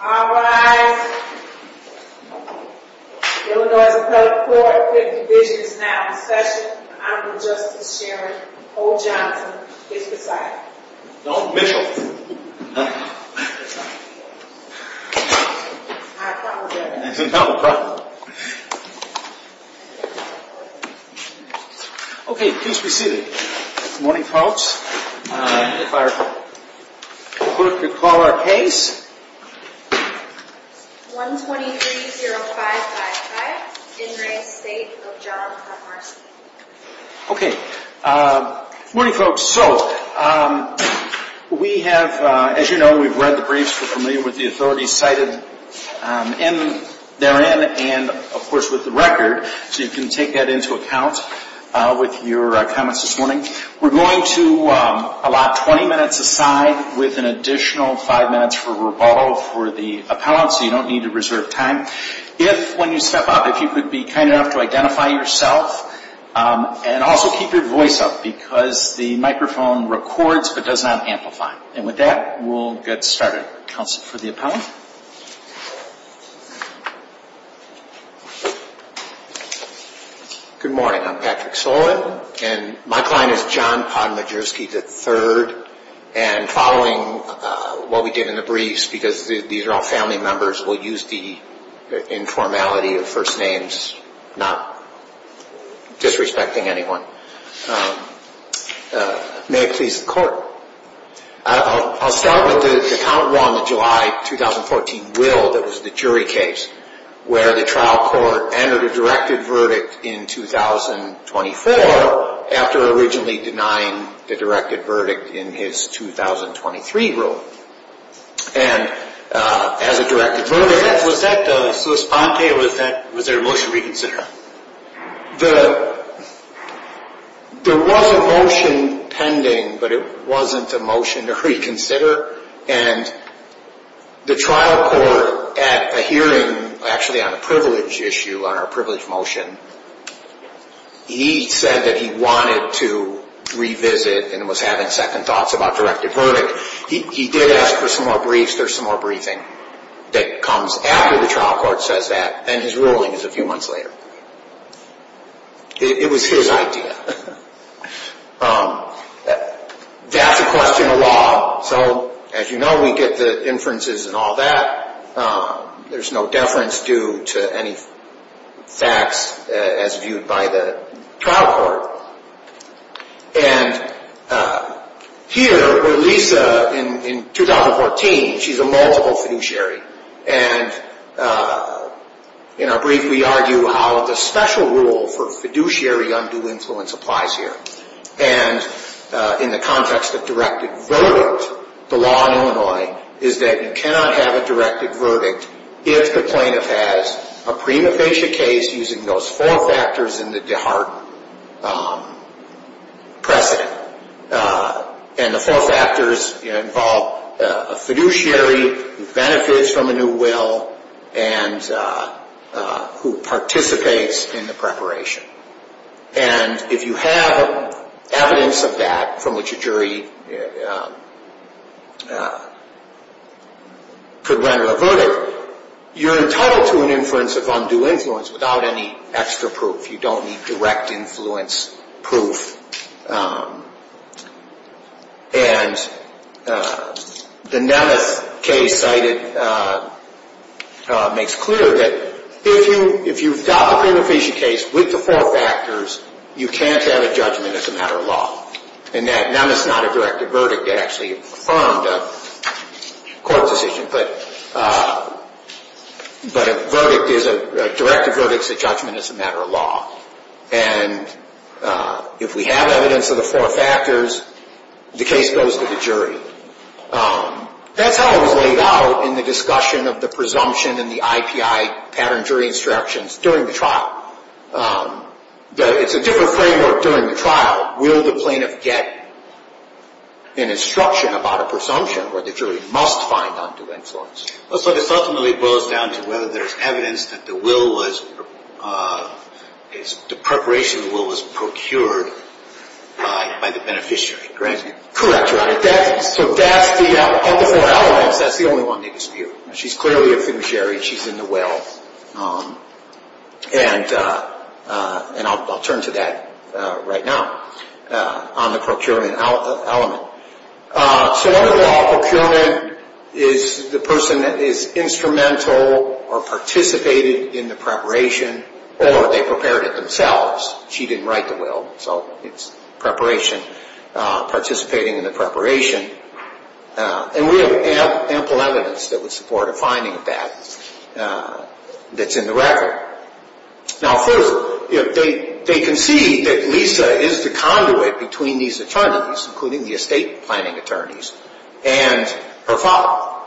Alright, we're going to cover 450 visions now. Thank you. I'm your host, Mr. Chairman. Paul Johnson, take it away. Don't mention it. Okay, please be seated. Good morning, folks. If our clerk could call our case. Good morning, folks. So, we have, as you know, we've read the briefs. We're familiar with the authorities cited therein and, of course, with the record. So you can take that into account with your comments this morning. We're going to allot 20 minutes of time with an additional five minutes for revolve for the appellant, so you don't need to reserve time. If, when you step up, if you could be kind enough to identify yourself, and also keep your voice up because the microphone records but does not amplify. And with that, we'll get started. Counsel for the appellant. Good morning. I'm Patrick Sullivan, and my client is John Pond Majorski III. And following what we give in the briefs, because these are all family members, we'll use the informality of first names, not disrespecting anyone. May I please have the clerk? I'll start with the account law in July of 2014, Will, that was the jury case, where the trial court entered a directive verdict in 2024, after originally denying the directive verdict in his 2023 ruling. And as a directive verdict, was that the response, or was there a motion to reconsider? There was a motion pending, but it wasn't a motion to reconsider. And the trial court, at a hearing, actually on a privilege issue, on a privilege motion, he said that he wanted to revisit and was having second thoughts about directive verdict. He did ask for some more briefs. There's some more briefing that comes after the trial court says that, and his ruling is a few months later. It was his idea. That's a question of law. So, as you know, we get the inferences and all that. There's no deference due to any facts as viewed by the trial court. And here, in 2014, she's a multiple fiduciary. And I'll briefly argue how the special rule for fiduciary undue influence applies here. And in the context of directive verdict, the law in Illinois is that you cannot have a directive verdict if the plaintiff has a pre-nefastia case using those four factors in the DeHart precedent. And the four factors involve a fiduciary who benefits from the new will and who participates in the preparation. And if you have evidence of that from which a jury could render a verdict, you're entitled to an inference of undue influence without any extra proof. You don't need direct influence proof. And the NEMIF case makes clear that if you've got a pre-nefastia case with the four factors, you can't have a judgment as a matter of law. And that NEMIF is not a directive verdict. It actually harmed the court's decision. But a verdict is a directive verdict, so judgment is a matter of law. And if we have evidence of the four factors, the case goes to the jury. That kind of laid out in the discussion of the presumption in the IPI pattern jury instructions during the trial. It's a different framework during the trial. How will the plaintiff get an instruction about a presumption where the jury must find undue influence? It doesn't really boil it down to whether there's evidence that the preparation of the will was procured by the beneficiary, correct? Correct. That's the only one that gets reviewed. She's clearly a fiduciary. She's in the well. And I'll turn to that right now on the procuring element. So whether that procurement is the person that is instrumental or participated in the preparation, or they prepared it themselves, she didn't write the will, so it's preparation, participating in the preparation. And we have ample evidence that would support a finding of that. That's in the record. Now, further, if they concede that Lisa is the conduit between these attorneys, including the estate planning attorneys, and her father,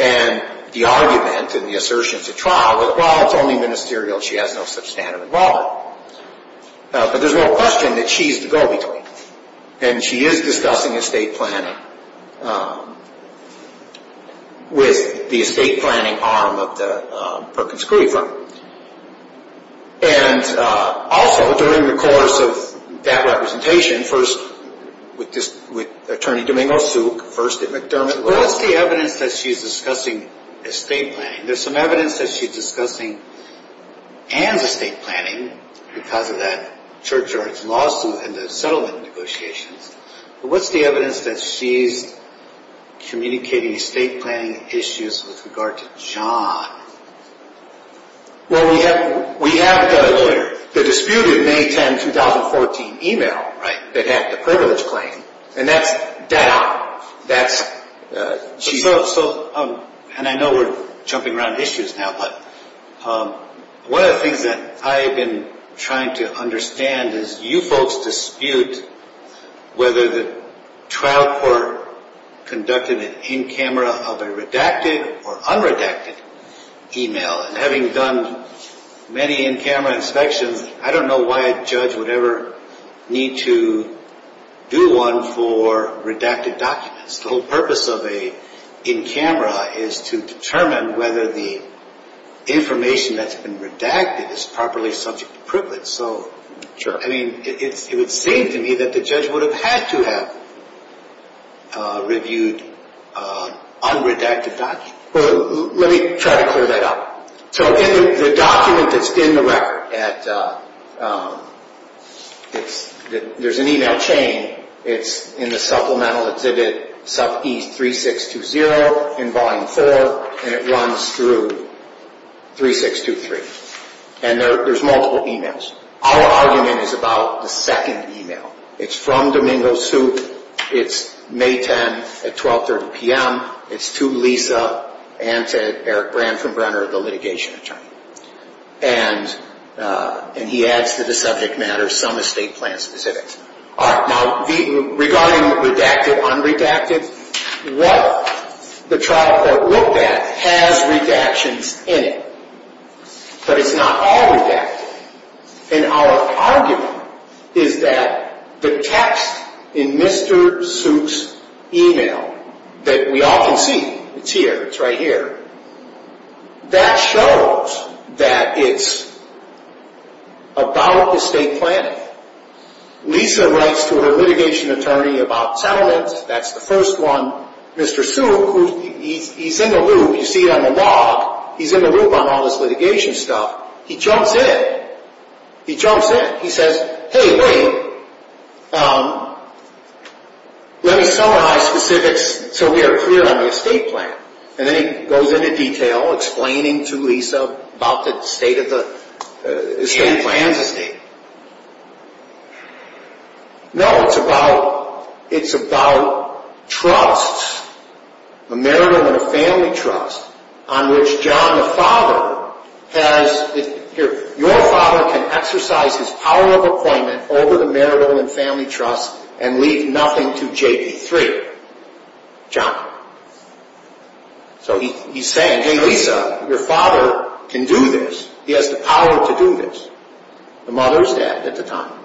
and the argument and the assertion at the trial, well, it's only ministerial. She has no substantive involvement. So there's no question that she's the go-between. And she is discussing estate planning with the estate planning arm of the Perkins-Gruber. And also, during the course of that representation, first with Attorney Domingos, who first at McDermott, what is the evidence that she's discussing estate planning? There's some evidence that she's discussing and estate planning because of that church-church lawsuit and the settlement negotiations. But what's the evidence that she's communicating estate planning issues with regard to John? Well, we have the disputed May 10, 2014 email that had the purpose claim, and that's chief. And I know we're jumping around issues now, but one of the things that I've been trying to understand is you folks dispute whether the trial court conducted an in-camera or a redacted or unredacted email. And having done many in-camera inspections, I don't know why a judge would ever need to do one for redacted documents. The whole purpose of an in-camera is to determine whether the information that's been redacted is properly subject to privilege. So, I mean, it would seem to me that the judge would have had to have reviewed unredacted documents. Well, let me try to clear that up. So, the document that's in the record, there's an email chain. It's in the Supplemental Exhibit 3620 in Volume 4, and it runs through 3623. And there's multiple emails. Our argument is about the second email. It's from Domingo Soup. It's May 10 at 12.30 p.m. It's to Lisa and says, Eric Ransom-Brenner, the litigation attorney. And he adds to the subject matter some estate plan specifics. Now, regarding redacted, unredacted, well, the trial court looked at has redactions in it. But it's not all redacted. And our argument is that the text in Mr. Soup's email that we often see, it's here, it's right here, that shows that it's about the estate plan. Lisa writes to her litigation attorney about settlements. That's the first one. Mr. Soup, he's in the loop. He's feeding on the law. He's in the loop on all this litigation stuff. He jumps in. He jumps in. He says, hey, hey, let me tell my specifics so we are clear on my estate plan. And then he goes into detail, explaining to Lisa about the state of the estate plan. No, it's about trusts, a marital and a family trust on which John, the father, has, here, your father can exercise his power of appointment over the marital and family trust and leave nothing to JP3, John. So he's saying, hey, Lisa, your father can do this. He has the power to do this. The mother is dead at the time.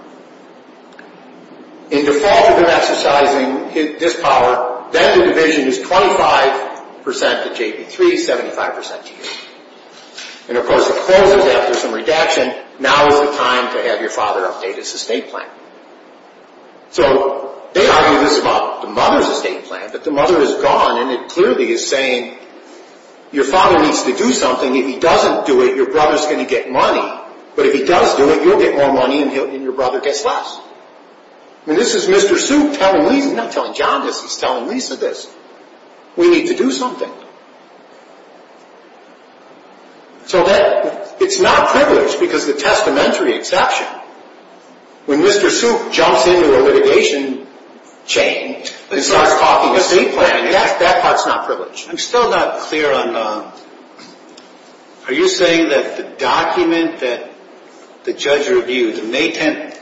And your father can exercise his power. Then the division is 25% to JP3, 75% to JP3. And, of course, it closes that with some redaction. Now is the time to have your father update his estate plan. So they argue this about the mother's estate plan. But the mother is gone, and it clearly is saying, your father needs to do something. If he doesn't do it, your brother is going to get money. But if he does do it, you'll get more money and your brother gets less. And this is Mr. Soup telling Lisa this. We need to do something. So it's not a privilege because of the testamentary exception. When Mr. Soup jumps into a litigation chain and starts talking about the estate plan, that part is not a privilege. I'm still not clear on, are you saying that the document that the judge reviews, and they can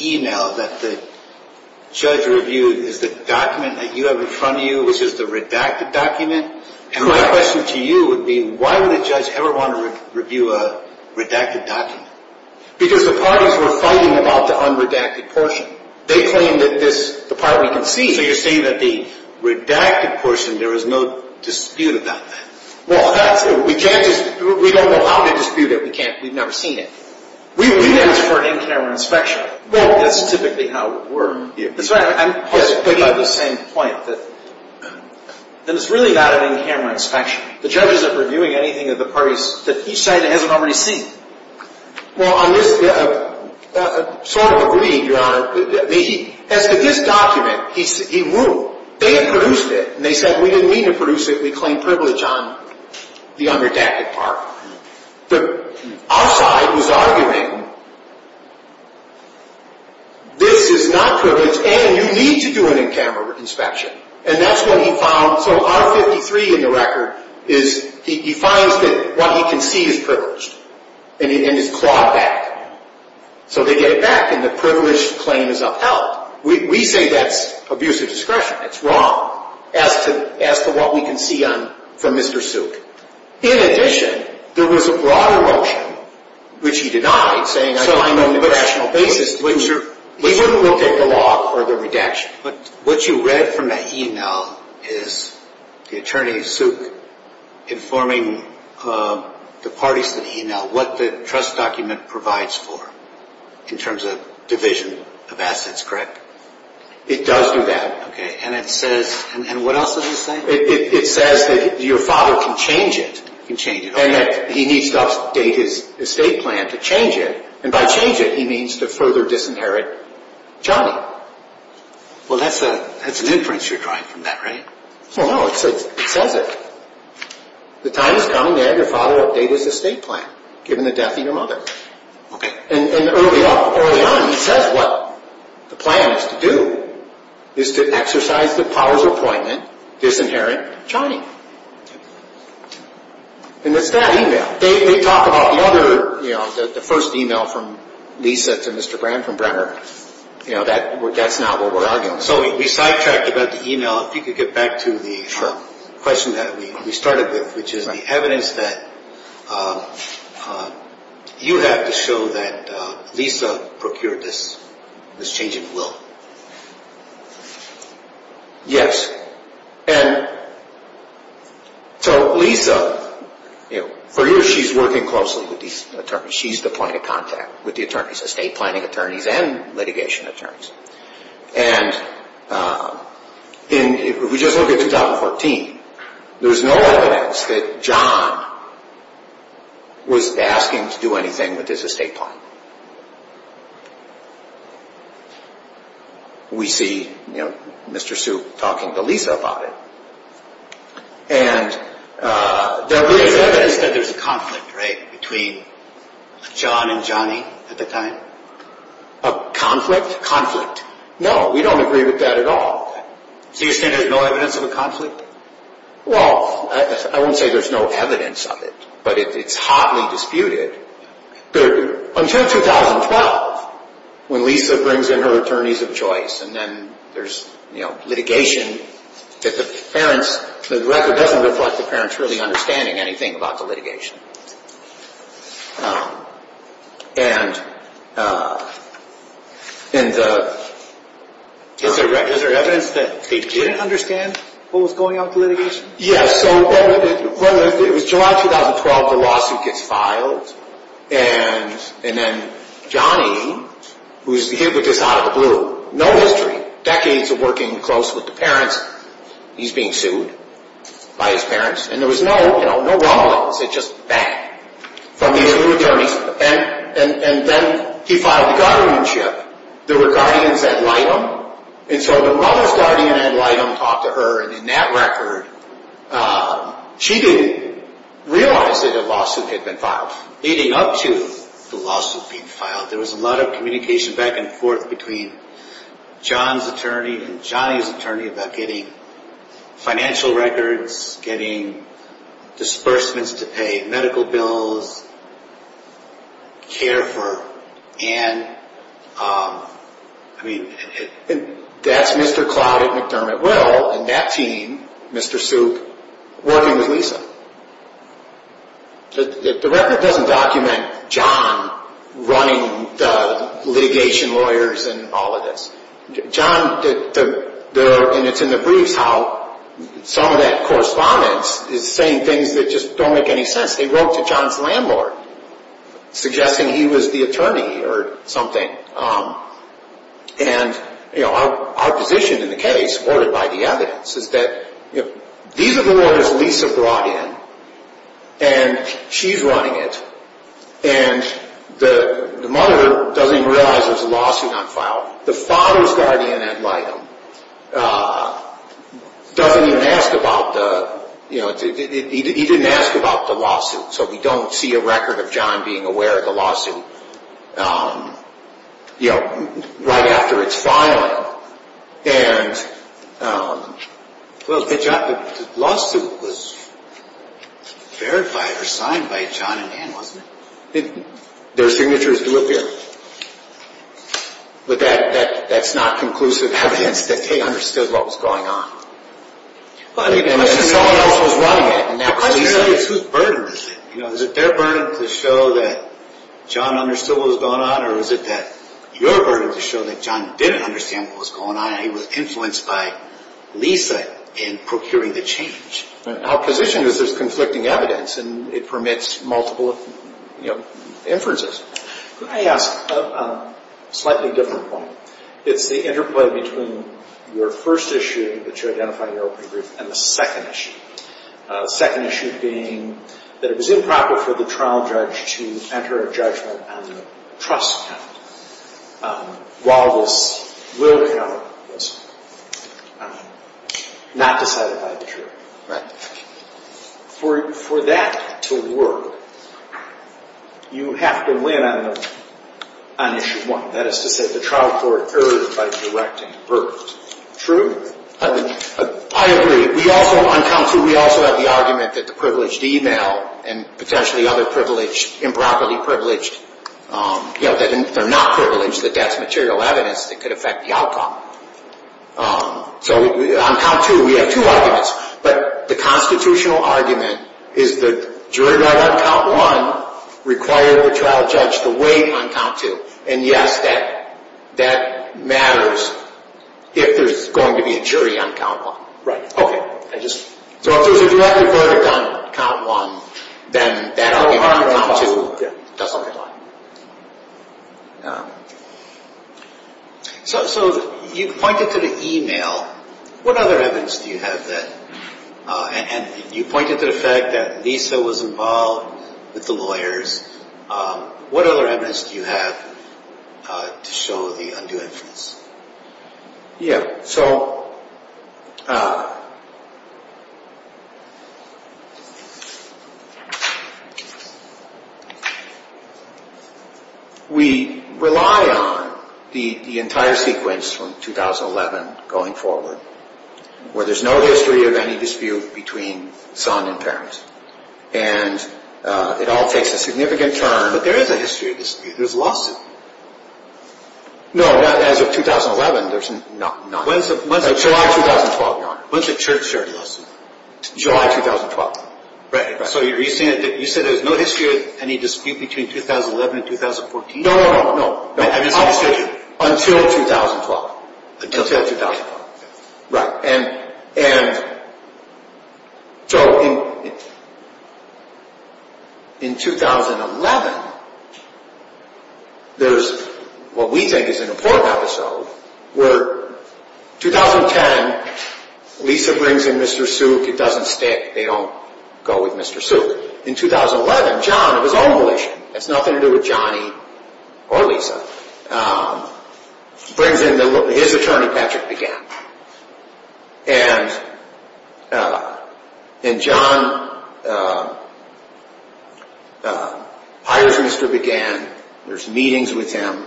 email that the judge reviews is the document that you have in front of you, which is the redacted document? And my question to you would be, why would a judge ever want to review a redacted document? Because the parties were fighting about the unredacted portion. They claim that the part was complete, but you're saying that the redacted portion, there was no dispute about that. Well, that's true. We judges, we don't know how to dispute it. We've never seen it. We review it for an in-camera inspection. Well, that's typically how we're viewed. That's right. I'm just picking up on the same point, that it's really not an in-camera inspection. The judges aren't reviewing anything of the parties that each side hasn't already seen. Well, on this sort of a reading, Your Honor, as to this document, he ruled. They had produced it, and they said, we didn't mean to produce it, and they claimed privilege on the unredacted part. The outside was arguing, this is not privilege, and you need to do an in-camera inspection. And that's what he found. So R-53 in the record is, he finds that what he can see is privilege, and is clawed back. So they get it back, and the privilege claim is upheld. We think that's abuse of discretion. That's wrong, as to what we can see from Mr. Suk. In addition, there was a broader motion, which he denied, saying, I don't know the rational basis. We'll take the law for the redaction. But what you read from that e-mail is the attorney, Suk, informing the parties in the e-mail what the trust document provides for, in terms of division of assets, correct? It does do that. And it says, and what else does it say? It says that your father can change it, and that he needs to update his estate plan to change it, and by change it, he means to further disinherit Charlie. Well, that's an inference you're drawing from that, right? Well, no, it says, close it. The time is coming to have your father update his estate plan, given the death of your mother. And early on, he says, well, the plan is to do is to exercise the powers of appointment, disinherit Charlie. And it's that e-mail. They talk about the other, you know, the first e-mail from Lisa to Mr. Graham from Brenner. You know, that's not what we're arguing. So we sidetracked about the e-mail. If you could get back to the question that we started with, which is the evidence that you have to show that Lisa procured this change in the will. Yes. And so Lisa, you know, for years she's working closely with these attorneys. She's the point of contact with the attorneys, estate planning attorneys and litigation attorneys. And if we just look at 2014, there was no evidence that John was asking to do anything with his estate plan. We see, you know, Mr. Soup talking to Lisa about it. And there is evidence that there's a conflict, right, between John and Johnny at the time? A conflict? Conflict. No, we don't agree with that at all. Do you stand there's no evidence of a conflict? Well, I won't say there's no evidence of it, but it's hotly disputed. Until 2012, when Lisa brings in her attorneys of choice, and then there's litigation, the record doesn't reflect the parents really understanding anything about the litigation. Is there evidence that they didn't understand what was going on with the litigation? Yes. So, it was July 2012 the lawsuit gets filed, and then Johnny, who's here with us out of the blue, no history, decades of working closely with the parents, he's being sued by his parents. And there was no hotel, no brothels, it's just the bank. And then he filed a guardianship. There were guardians at Lyham. And so the mother of the guardian at Lyham talked to her, and in that record, she didn't realize that a lawsuit had been filed. Leading up to the lawsuit being filed, there was a lot of communication back and forth between John's attorney and Johnny's attorney about getting financial records, getting disbursements to pay medical bills, care for Ann. I mean, that's Mr. Clyde McDermott-Wells and that team, Mr. Soup, working with Lisa. The record doesn't document John running the litigation lawyers and all of this. And it's in the briefs how some of that correspondence is saying things that just don't make any sense. They wrote to John's landlord, suggesting he was the attorney or something. And our position in the case, supported by the evidence, is that these are the lawyers Lisa brought in, and she's running it. And the mother doesn't even realize there's a lawsuit on file. The father of the guardian at Lyham, he didn't ask about the lawsuit, so we don't see a record of John being aware of the lawsuit right after it's filed. And the lawsuit was verified or signed by John and Ann, wasn't it? I think their signature is real here. But that's not conclusive evidence that they understood what was going on. Well, I think they understood what was going on. Is it their burden to show that John understood what was going on, or is it your burden to show that John didn't understand what was going on and he was influenced by Lisa in procuring the change? Our position is that there's conflicting evidence, and it permits multiple inferences. Can I ask a slightly different one? It's the interplay between your first issue that you identified earlier and the second issue. The second issue being that it was improper for the trial judge to enter a judgment on a trust account while it was not decided by the jury. For that to work, you have to win on issue one. That is to say, the trial court erred by selecting the burden. True? I agree. We also have the argument that the privileged e-mail and potentially other privilege, improperly privileged, if they're not privileged, that that's material evidence that could affect the outcome. So on count two, we have two arguments. But the constitutional argument is the jury on count one required the trial judge to wait on count two. And yes, that matters if there's going to be a jury on count one. Right. So you pointed to the e-mail. What other evidence do you have then? And you pointed to the fact that Lisa was involved with the lawyers. What other evidence do you have to show the undue evidence? Yes. We rely on the entire sequence from 2011 going forward where there's no history of any dispute between son and parents. And it all takes a significant turn. But there is a history of dispute. There's lots of disputes. No. As of 2011, there's not. When is it? July 2012, Your Honor. When's the church hearing? July 2012. Right. So you said there's no history of any dispute between 2011 and 2014? No, no, no. Until 2012. Until 2012. Right. And so in 2011, there's what we think is an important episode where 2010, Lisa brings in Mr. Suk. It doesn't stick. They don't go with Mr. Suk. In 2011, John, his own lawyer, has nothing to do with Johnny or Lisa, brings in his attorney, Patrick, again. And John hires Mr. Bagan. There's meetings with him.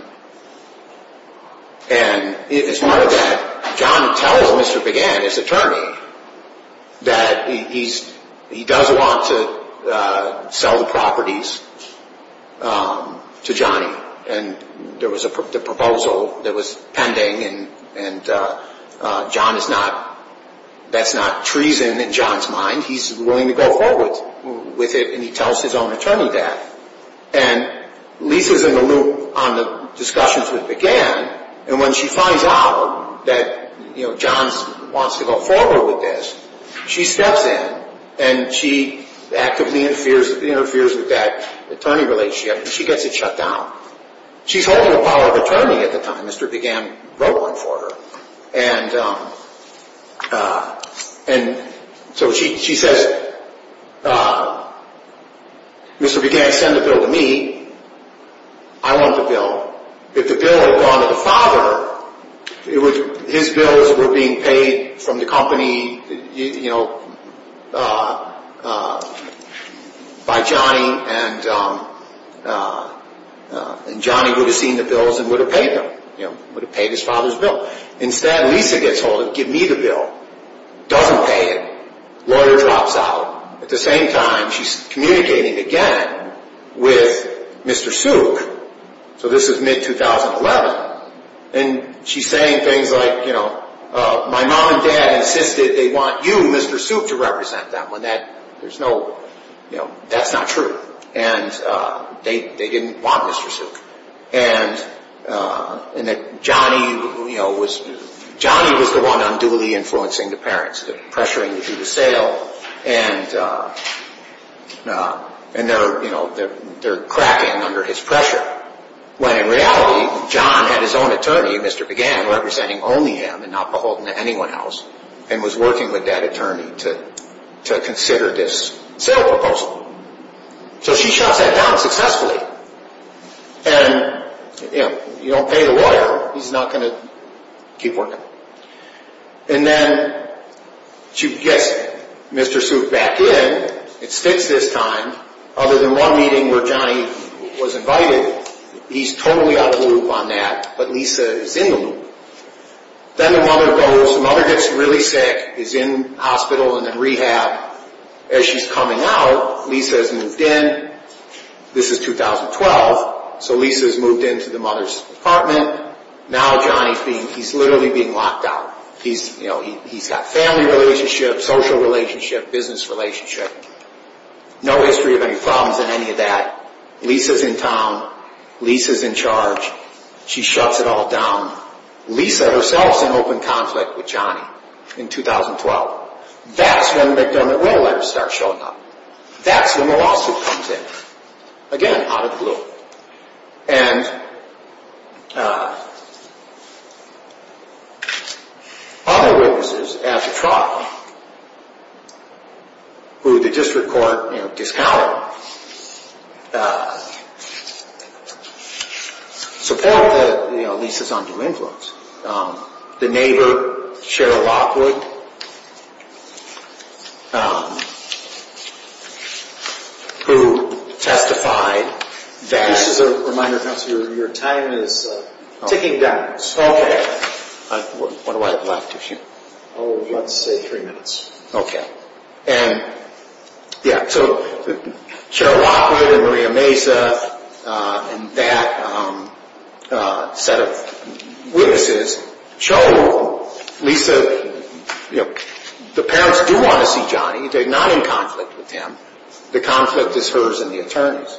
And as part of that, John tells Mr. Bagan, his attorney, that he does want to sell the properties to Johnny. And there was a proposal that was pending, and that's not treason in John's mind. He's willing to go forward with it, and he tells his own attorney that. And Lisa's in the loop on the discussions with Bagan, and when she finds out that John wants to go forward with this, she steps in. And she actively interferes with that attorney relationship, and she gets it shut down. She's holding the power of attorney at the time. Mr. Bagan wrote one for her. And so she says, Mr. Bagan, send the bill to me. I want the bill. If the bill had gone to the father, his bills were being paid from the company by Johnny, and Johnny would have seen the bills and would have paid them. He would have paid his father's bill. Instead, Lisa gets told to give me the bill. Doesn't pay it. Lawyer drops out. At the same time, she's communicating again with Mr. Suk. So this is mid-2011. And she's saying things like, you know, my mom and dad insisted they want you, Mr. Suk, to represent them. That's not true. And they didn't want Mr. Suk. And Johnny was the one unduly influencing the parents, pressuring them to do the sale, and they're cracking under his pressure. When in reality, John had his own attorney, Mr. Bagan, representing only him and not beholden to anyone else, and was working with that attorney to consider this sale proposal. So she shot that down successfully. And, you know, you don't pay the lawyer. He's not going to keep working. And then she gets Mr. Suk back in. It's fixed this time. Other than one meeting where Johnny was invited, he's totally up to the loop on that, but Lisa is in the loop. Then the mother gets really sick, is in hospital and in rehab. As she's coming out, Lisa has moved in. This is 2012. So Lisa has moved into the mother's apartment. Now Johnny's being, he's literally being locked out. He's, you know, he's got family relationships, social relationships, business relationships. No history of any problems in any of that. Lisa's in town. Lisa's in charge. She shuts it all down. Lisa herself is in open conflict with Johnny in 2012. That's when the gunman letter starts showing up. That's when the lawsuit comes in. Again, out of the loop. And other witnesses, as a trial, who the district court discovered, support Lisa's undue influence. The neighbor, Cheryl Lockwood, who testified. Just a reminder, counselor, your time is ticking down. What do I have left to shoot? Oh, you have to say three minutes. Okay. And, yeah, so Cheryl Lockwood, Maria Mesa, and that set of witnesses show Lisa, you know, the parents do want to see Johnny. They're not in conflict with him. The conflict is hers and the attorney's.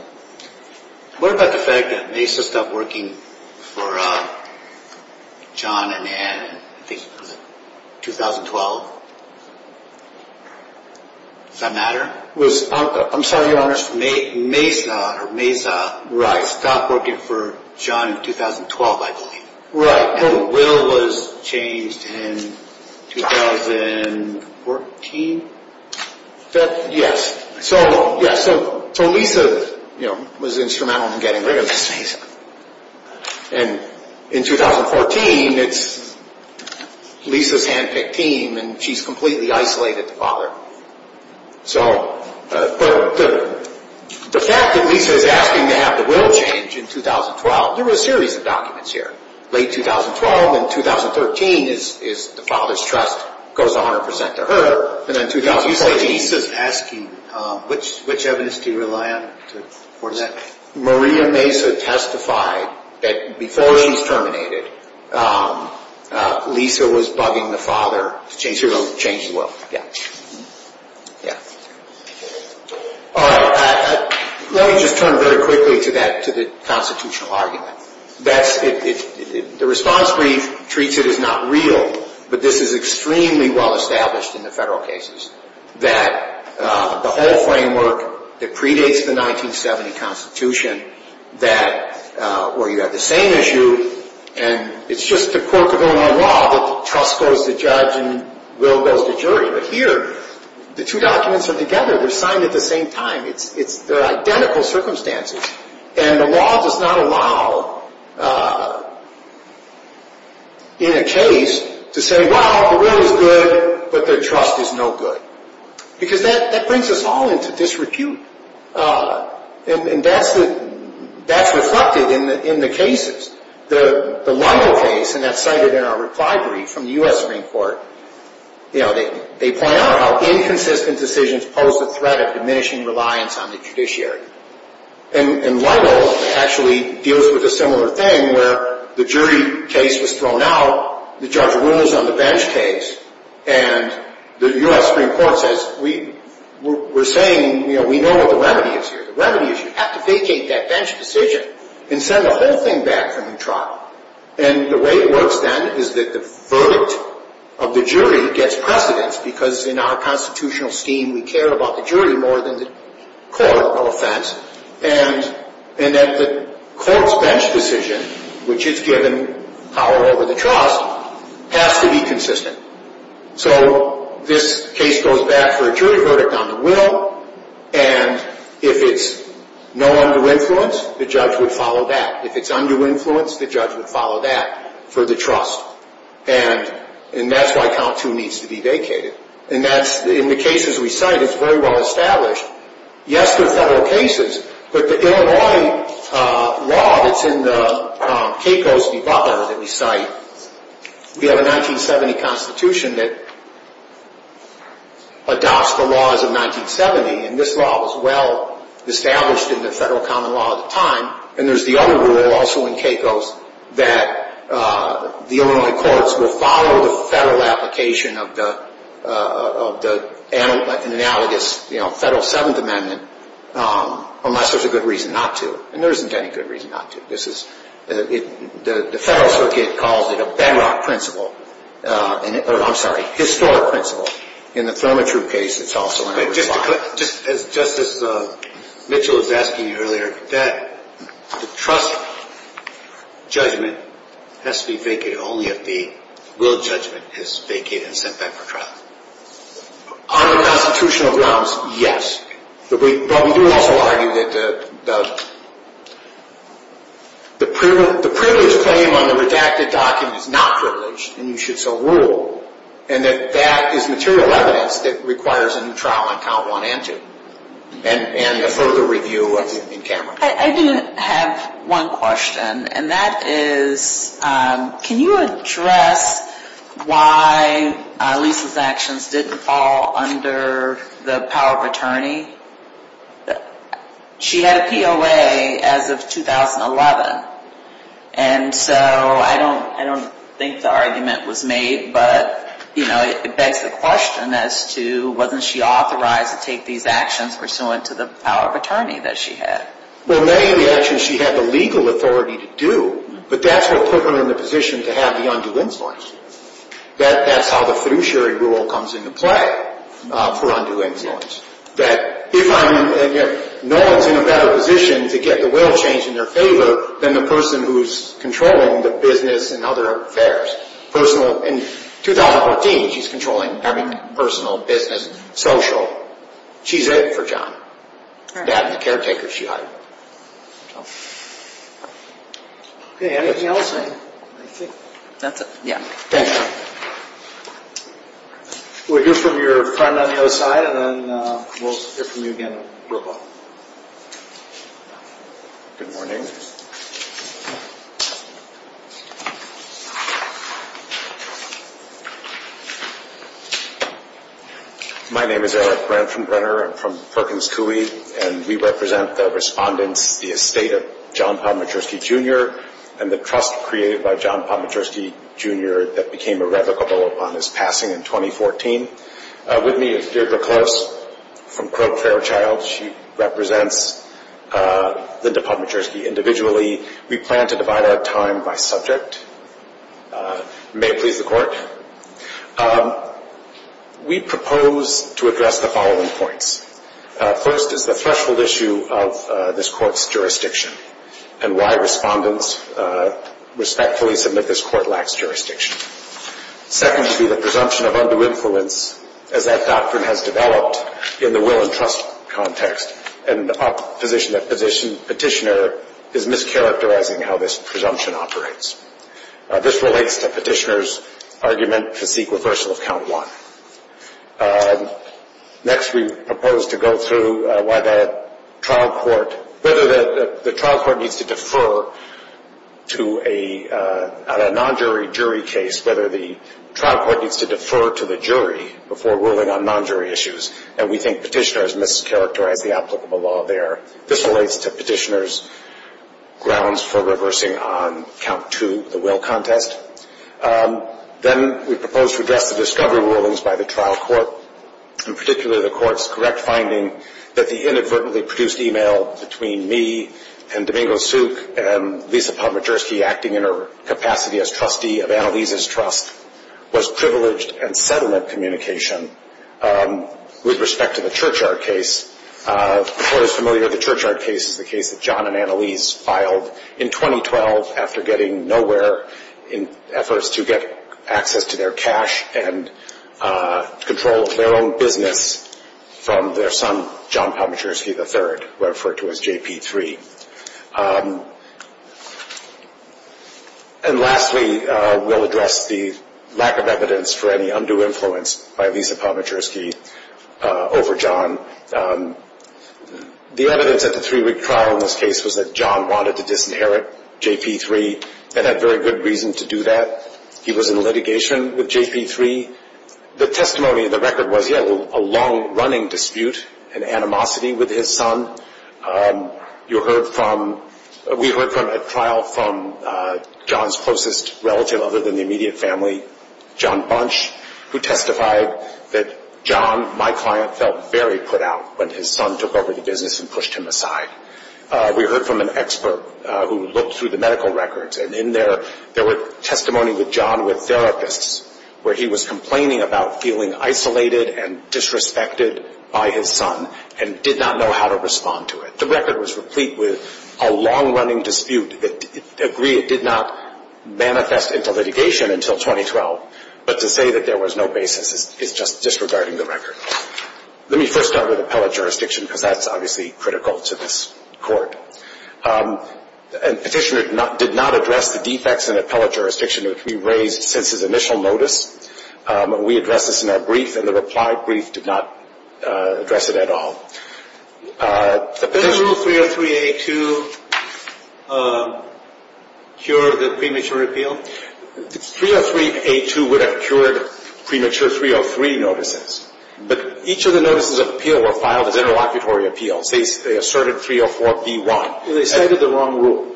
What about the fact that Mesa stopped working for John and Anne in 2012? Does that matter? I'm sorry, your Honor. Mesa stopped working for John in 2012, I believe. Right. Her will was changed in 2014. Yes. So, yes, so Lisa was instrumental in getting rid of Mesa. And in 2014, Lisa's handpicked team and she's completely isolated the father. So, the fact that Lisa is asking to have the will changed in 2012, there were a series of documents here. Late 2012 and 2013 is the father's trust goes 100% to her. And in 2014... Lisa's asking which evidence do you rely on to coordinate? Maria Mesa testified that before he was terminated, Lisa was bugging the father to change the will. Let me just turn very quickly to that, to the constitutional argument. The response we treated is not real, but this is extremely well established in the federal cases. That the whole framework that predates the 1970 Constitution, that where you have the same issue, and it's just a quirk of Illinois law that trust goes to judge and will goes to jury. But here, the two documents are together. They're signed at the same time. They're identical circumstances. And the law does not allow, in a case, to say, well, the will is good, but their trust is no good. Because that brings us all into disrepute. And that's reflected in the cases. The Lyle case, and that's cited in our recovery from the U.S. Supreme Court, they point out how inconsistent decisions pose a threat of diminishing reliance on the judiciary. And Lyle actually deals with a similar thing, where the jury case was thrown out, the judge rules on the bench case, and the U.S. Supreme Court says, we're saying we know what the remedy is here. The remedy is you have to vacate that bench decision and send the whole thing back from the trial. And the way it works, then, is that the verdict of the jury gets precedence, because in our constitutional scheme, we care about the jury more than the court or offense. And that the court's bench decision, which is given power over the trust, has to be consistent. So this case goes back for a jury verdict on the will, and if it's no under influence, the judge would follow that. If it's under influence, the judge would follow that for the trust. And that's why count two needs to be vacated. And that's, in the cases we cite, it's very well established. Yes, there are federal cases, but the Illinois law that's in the Caicos Department that we cite, we have a 1970 constitution that adopts the laws of 1970, and this law was well established in the federal common law at the time, and there's the other rule also in Caicos that the Illinois courts will follow the federal application of the analogous Federal Seventh Amendment unless there's a good reason not to. And there isn't any good reason not to. The Federal Circuit calls it a benchmark principle, or I'm sorry, a historic principle. In the Thurmond True case, it's also a benchmark. Just as Mitchell was asking earlier, the trust judgment has to be vacated. Only if the willed judgment is vacated and sent back for trial. Under constitutional grounds, yes. But we do have to argue that the privilege claim under redacted documents is not privileged, and you should still rule, and that that is material evidence that requires a new trial on count one and two, and a further review in camera. I do have one question, and that is, can you address why Lisa's actions didn't fall under the power of attorney? She had a COA as of 2011, and so I don't think the argument was made, but it begs the question as to, wasn't she authorized to take these actions pursuant to the power of attorney that she had? Well, maybe actually she had the legal authority to do, but that's what put her in the position to have the undue influence. That's how the fiduciary rule comes into play for undue influence. That if I'm not in a better position to get the will changed in their favor than the person who's controlling the business and other affairs. In 2014, she's controlling every personal, business, social. She's it for John. That's the caretaker she hired. We'll hear from your partner on the other side, and then we'll hear from you again real quick. Good morning. My name is Eric Brent from Brenner. I'm from Perkins Coie, and we represent the respondent, the estate of John Palmatriski, Jr., and the trust created by John Palmatriski, Jr. that became irrevocable upon his passing in 2014. With me is Deidre Close from Crowe Fairchild. She represents Linda Palmatriski individually. We plan to divide our time by subject. May it please the Court. We propose to address the following points. First is the threshold issue of this Court's jurisdiction and why respondents respectfully submit this Court lacks jurisdiction. Secondly, the presumption of under influence, as that doctrine has developed in the will and trust context, and the position of petitioner is mischaracterizing how this presumption operates. This relates to petitioner's argument to seek reversal of Count 1. Next, we propose to go through whether the trial court needs to defer to a non-jury jury case, whether the trial court needs to defer to the jury before ruling on non-jury issues, and we think petitioner has mischaracterized the applicable law there. This relates to petitioner's grounds for reversing on Count 2, the will context. Then we propose to address the discovery rulings by the trial court, and particularly the Court's correct finding that the inadvertently produced email between me and Domingo Souk and Lisa Palmacherski acting in her capacity as trustee of Annalise's Trust was privileged and sediment communication with respect to the Churchyard case. For those familiar, the Churchyard case is the case that John and Annalise filed in 2012 after getting nowhere in efforts to get access to their cash and control of their own business from their son, John Palmacherski III, who I refer to as JP3. And lastly, we'll address the lack of evidence for any undue influence by Lisa Palmacherski over John. The evidence at the three-week trial in this case was that John wanted to disinherit JP3. They had very good reason to do that. He was in litigation with JP3. The testimony in the record was, yes, a long-running dispute, an animosity with his son. We heard at trial from John's closest relative other than the immediate family, John Bunch, who testified that John, my client, felt very put out when his son took over the business and pushed him aside. We heard from an expert who looked through the medical records, and in there, there were testimonies with John with derogates, where he was complaining about feeling isolated and disrespected by his son and did not know how to respond to it. The record was complete with a long-running dispute that did not manifest into litigation until 2012. But to say that there was no basis is just disregarding the record. Let me first start with appellate jurisdiction, because that's obviously critical to this court. A petitioner did not address the defects in appellate jurisdiction in three ways since his initial notice. We addressed this in our brief, and the reply brief did not address it at all. Did Rule 303A2 cure the premature appeal? Rule 303A2 would have cured premature 303 notices, but each of the notices of appeal were filed as interlocutory appeals. They asserted 304B1. So they cited the wrong rule?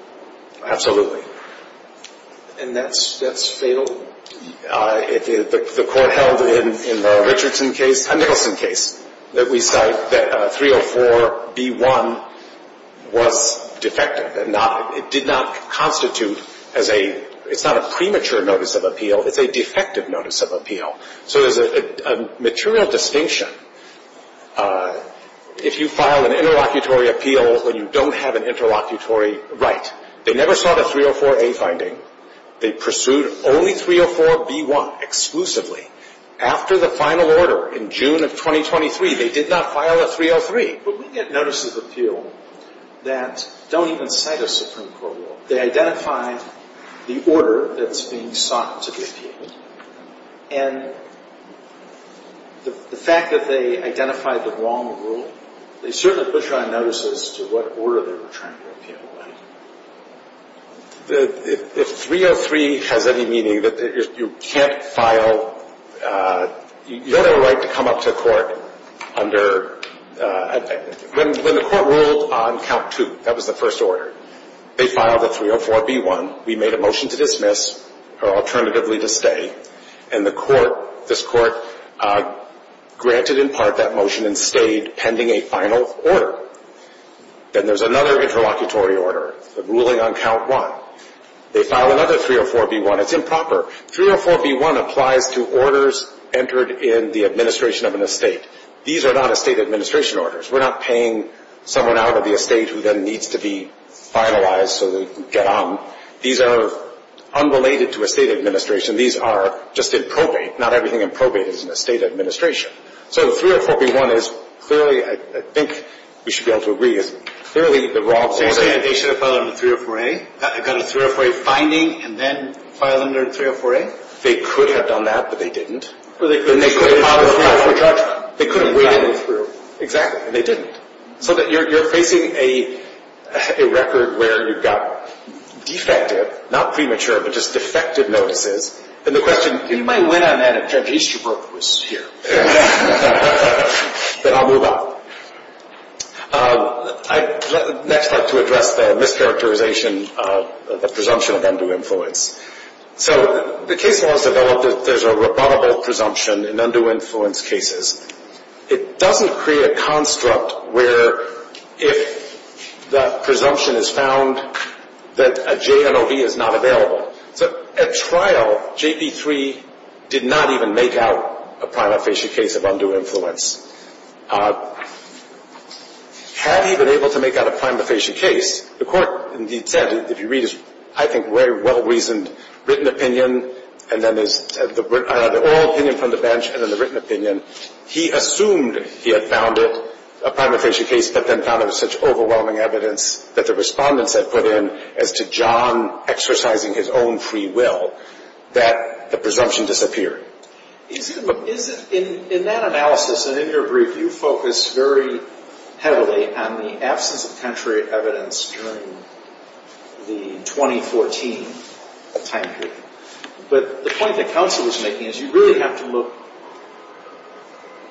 Absolutely. And that's fatal? The court held in the Richardson case, that we cite, that 304B1 was defective. It did not constitute as a premature notice of appeal. It's a defective notice of appeal. So there's a material distinction if you file an interlocutory appeal when you don't have an interlocutory right. They never sought a 304A finding. They pursued only 304B1 exclusively. After the final order in June of 2023, they did not file a 303. But we get notices of appeal that don't even cite a Supreme Court rule. They identified the order that was being sought as an appeal. And the fact that they identified the wrong rule, they certainly put you on notice as to what order they were trying to appeal. If 303 has any meaning, if you can't file, you have a right to come up to the court under – When the court ruled on count two, that was the first order, they filed a 304B1. We made a motion to dismiss or alternatively to stay. And this court granted in part that motion and stayed pending a final order. Then there's another interlocutory order, the ruling on count one. They filed another 304B1. It's improper. 304B1 applied to orders entered in the administration of an estate. These are not estate administration orders. We're not paying someone out of the estate who then needs to be finalized so they can get on. These are unrelated to estate administration. These are just in probate. Not everything in probate is in estate administration. So 304B1 is clearly, I think we should be able to agree, is clearly the wrong order. They should have filed under 304A. They got a 304A finding and then filed under 304A? They could have done that, but they didn't. So they couldn't make the final decision? Exactly. They didn't. So you're placing a record where you've got defective, not premature, but just defective notices. And the question is, in my land, I'm not going to change. The history book was here. Then I'll move on. Next I'd like to address the mischaracterization of the presumption of undue influence. So the case law has developed that there's a rebuttable presumption in undue influence cases. It doesn't create a construct where if the presumption is found that a JNOB is not available. At trial, JP3 did not even make out a prima facie case of undue influence. Had he been able to make out a prima facie case, the court said, if you read this, I think very well-reasoned written opinion, and then there's the oral opinion from the bench, and then the written opinion. He assumed he had found it, a prima facie case, but then found it was such overwhelming evidence that the respondents have put in as to John exercising his own free will, that the presumption disappeared. In that analysis, and in your brief, you focus very heavily on the absence of penitentiary evidence during the 2014 time period. But the point that counsel was making is you really have to look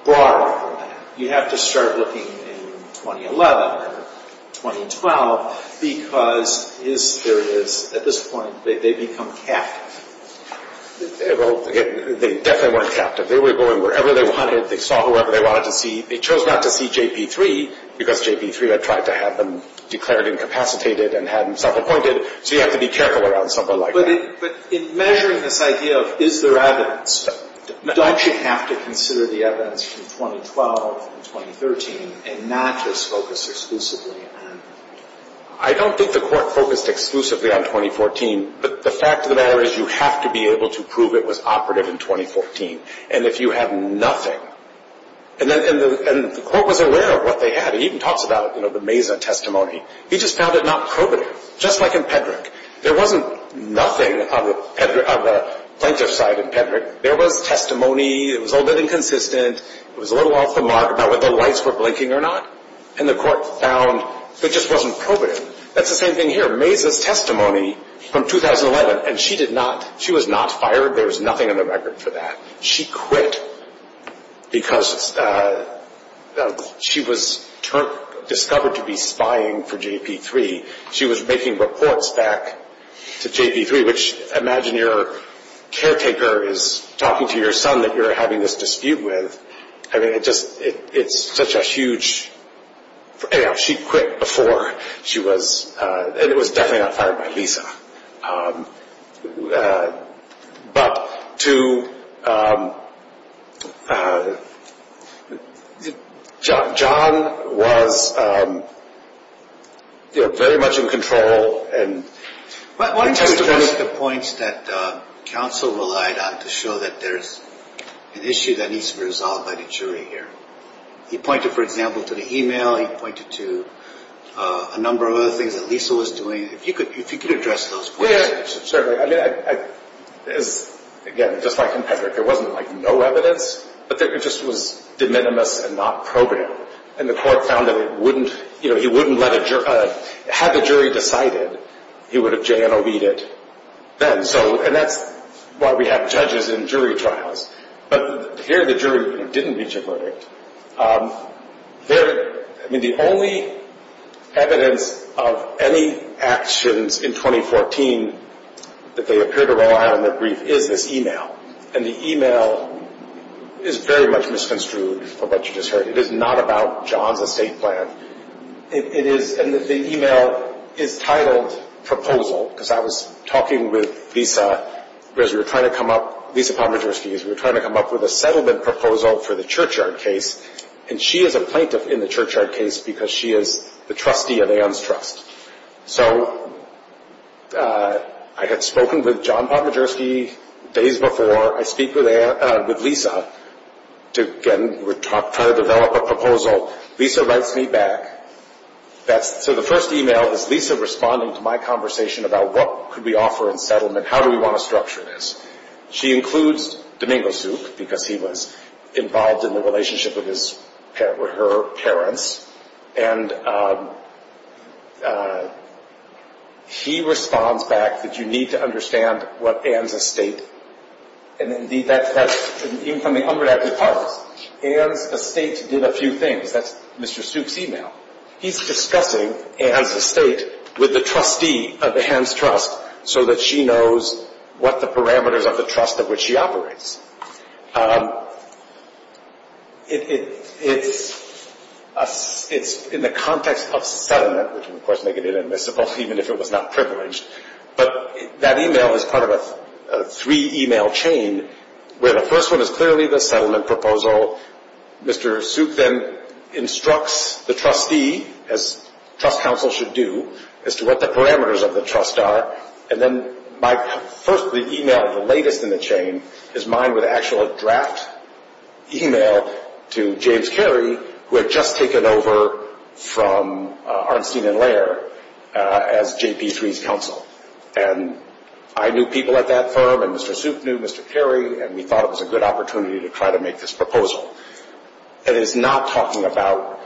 far over that. You have to start looking in 2011, 2012, because his period, at this point, they become capped. They definitely weren't capped. They were going wherever they wanted. They saw whoever they wanted to see. They chose not to see JP3 because JP3 had tried to have them declared incapacitated and had them self-appointed, so you have to be careful around someone like that. But in measuring this idea of is there evidence, don't you have to consider the evidence from 2012 and 2013 and not just focus exclusively on that? I don't think the court focused exclusively on 2014, but the fact of the matter is you have to be able to prove it was operative in 2014. And if you had nothing, and the court was aware of what they had. He even talks about it, you know, the Mazen testimony. He just found it not probative, just like in Pedrick. There wasn't nothing on the plaintiff's side in Pedrick. There was testimony. It was all very consistent. It was a little off the mark about whether the lights were blinking or not. And the court found it just wasn't probative. That's the same thing here. Mazen's testimony from 2011, and she was not fired. There was nothing in the record for that. She quit because she was discovered to be spying for JP3. She was making reports back to JP3, which imagine your caretaker is talking to your son that you're having this dispute with. I mean, it's such a huge, you know, she quit before she was, and it was definitely not fired by Lisa. But to, John was, you know, very much in control. Why don't you make the points that John so relied on to show that there's an issue that needs to be resolved by the jury here? He pointed, for example, to the e-mail. He pointed to a number of other things that Lisa was doing. If you could address those questions. Certainly. Again, just like in Pedrick, there was no evidence, but it just was de minimis and not probative. And the court found that it wouldn't, you know, he wouldn't let a jury, had the jury decided, he would have Jan O'Heed it then. And that's why we have judges in jury trials. But here the jury didn't need to prove it. I mean, the only evidence of any actions in 2014 that they appear to rely on in their brief is the e-mail. And the e-mail is very much misconstrued. It is not about John's estate plan. It is, and the e-mail is titled proposal, because I was talking with Lisa, because we were trying to come up, Lisa Palmagerski, we were trying to come up with a settlement proposal for the Churchyard case, and she is a plaintiff in the Churchyard case because she is the trustee of Ann's Trust. So I had spoken with John Palmagerski days before. I speak with Lisa to, again, we're trying to develop a proposal. Lisa writes me back. So the first e-mail is Lisa responding to my conversation about what could we offer in settlement, how do we want to structure this. She includes Domingo Soup, because he was involved in the relationship with her parents. And he responds back that you need to understand what Ann's estate, and indeed that's something I'm going to have to talk about. Ann's estate did a few things. That's Mr. Soup's e-mail. He's discussing Ann's estate with the trustee of Ann's Trust so that she knows what the parameters of the trust of which she operates. It's in the context of settlement, which would, of course, make it inadmissible, even if it was not privileged. But that e-mail is part of a three-e-mail chain. The first one is clearly the settlement proposal. Mr. Soup then instructs the trustee, as trust counsel should do, as to what the parameters of the trust are. And then my first e-mail, the latest in the chain, is mine with an actual draft e-mail to James Carey, who had just taken over from Arnstein & Laird as JP3's counsel. And I knew people at that firm, and Mr. Soup knew Mr. Carey, and we thought it was a good opportunity to try to make this proposal. And it's not talking about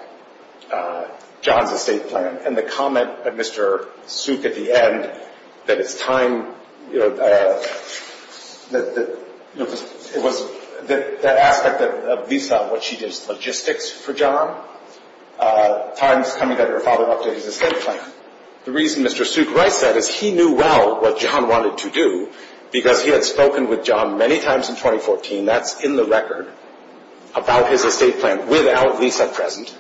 John's estate plan. And the comment of Mr. Soup at the end that it's time, you know, that it was that aspect of Lisa, what she did was logistics for John, times coming that her father updated his estate plan. The reason Mr. Soup writes that is he knew well what John wanted to do, because he had spoken with John many times in 2014. That's in the record about his estate plan without Lisa present.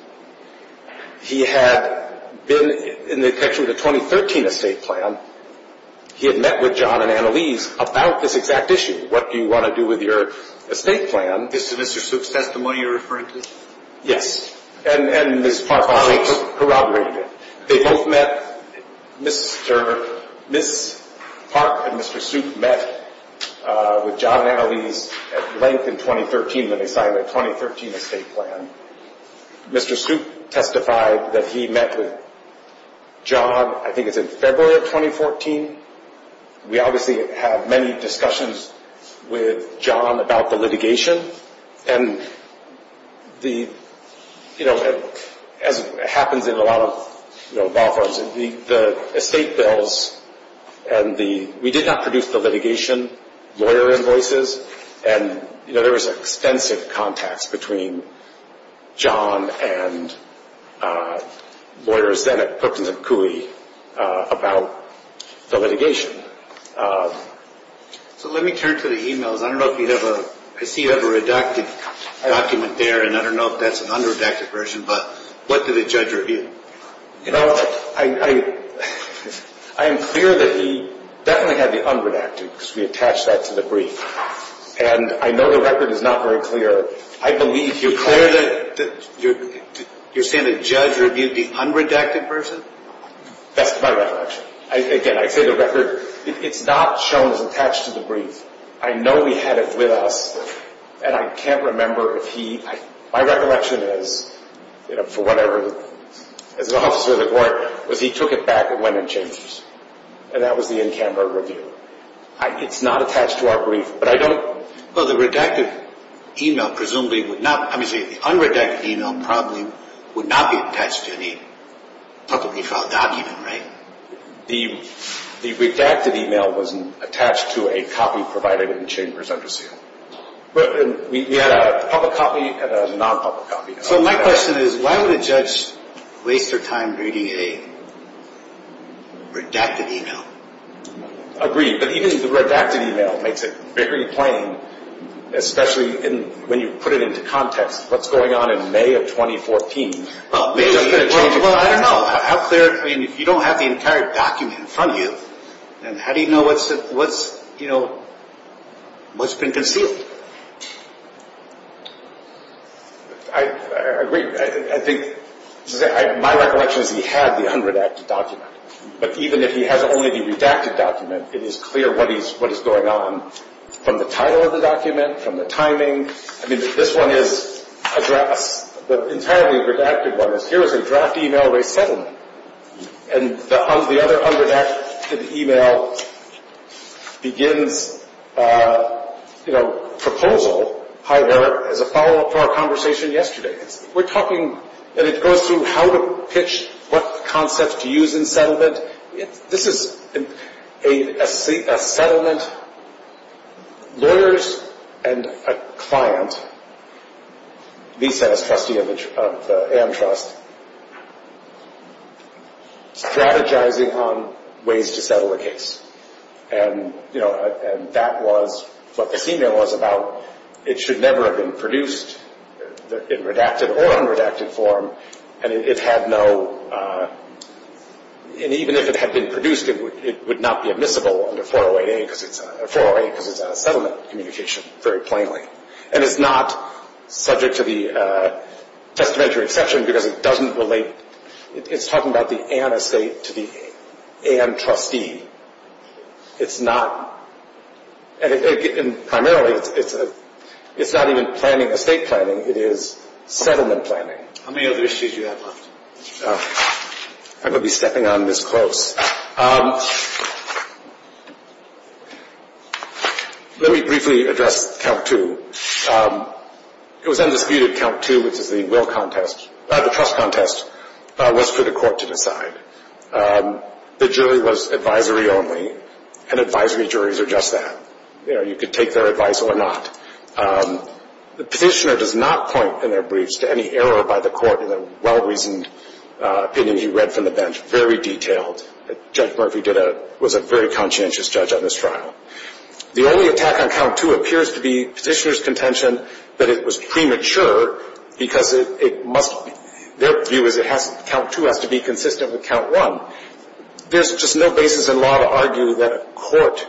He had been in the section of the 2013 estate plan. He had met with John and Annalise about this exact issue. What do you want to do with your estate plan? Did Mr. Soup send some money or references? Yes. And Ms. Park and I just corroborated it. They both met. Ms. Park and Mr. Soup met with John and Annalise at length in 2013 when they started the 2013 estate plan. Mr. Soup testified that he met with John, I think it was in February of 2014. We obviously had many discussions with John about the litigation. And, you know, as happens in a lot of law firms, the estate bills and the litigation, lawyer invoices, and, you know, there was extensive contacts between John and lawyers then at Perkins and Cooley about the litigation. So let me turn to the e-mails. I don't know if you have a – I see you have a redacted document there, and I don't know if that's an unredacted version, but what did the judge review? You know, I am clear that he definitely had the unredacted because we attached that to the brief. And I know the record is not very clear. I believe he – You're saying the judge reviewed the unredacted version? That's not a reference. Again, I say the record – it's not shown as attached to the brief. I know he had it with us, and I can't remember if he – my recollection is, you know, for whatever – it's also the court, but he took it back and went and changed it, and that was the in-camera version. It's not attached to our brief, but I don't – Well, the redacted e-mail presumably would not – I mean, the unredacted e-mail probably would not be attached to the – The redacted e-mail was attached to a copy provided in the chambers, I presume. We had a public copy and a non-public copy. So my question is, why would a judge waste their time reading a redacted e-mail? Agreed, but even the redacted e-mail makes it very plain, especially when you put it into context. What's going on in May of 2014? How clear – I mean, if you don't have the entire document in front of you, then how do you know what's, you know, what's been concealed? I agree. I think – my recollection is we have the unredacted document, but even if he has only the redacted document, it is clear what is going on from the title of the document, from the timing. I mean, this one is a draft. The entirely redacted one is, here is a draft e-mail of a settlement. And the other unredacted e-mail begins, you know, proposal, however, as a follow-up to our conversation yesterday. We're talking – and it goes through how to pitch what concepts to use in settlement. This is a settlement. There is a client, he said as trustee of the A.M. Trust, strategizing on ways to settle a case. And, you know, that was what the e-mail was about. It should never have been produced in redacted or unredacted form, and it had no – and even if it had been produced, it would not be admissible under 408 because it's not a settlement communication very plainly. And it's not subject to the testamentary exception because it doesn't relate. It's talking about the A.M. estate to the A.M. trustee. It's not – and primarily, it's not even planning estate planning. It is settlement planning. How many other issues do you have for us? I'm going to be stepping on this close. Let me briefly address Calc 2. It was on the speed of Calc 2 that the Will Contest, not the Trust Contest, was put to court to decide. The jury was advisory only, and advisory juries are just that. You know, you could take their advice or not. The petitioner does not point in their briefs to any error by the court in a well-reasoned opinion he read from the bench, very detailed. Judge Murphy did a – was a very conscientious judge on this trial. The only attack on Calc 2 appears to be petitioner's contention that it was premature because it must – their view is that Calc 2 has to be consistent with Calc 1. There's just no basis in law to argue that a court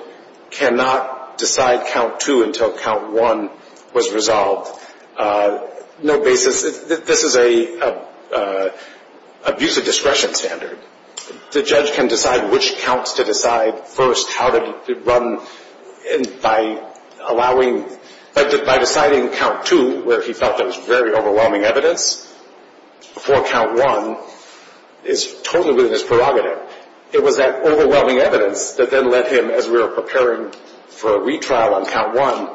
cannot decide Calc 2 until Calc 1 was resolved. No basis. This is an abuse of discretion standard. The judge can decide which counts to decide first, how to run, and by allowing – by deciding Calc 2, where he felt there was very overwhelming evidence for Calc 1, is totally within his prerogative. It was that overwhelming evidence that then left him, as we were preparing for a retrial on Calc 1,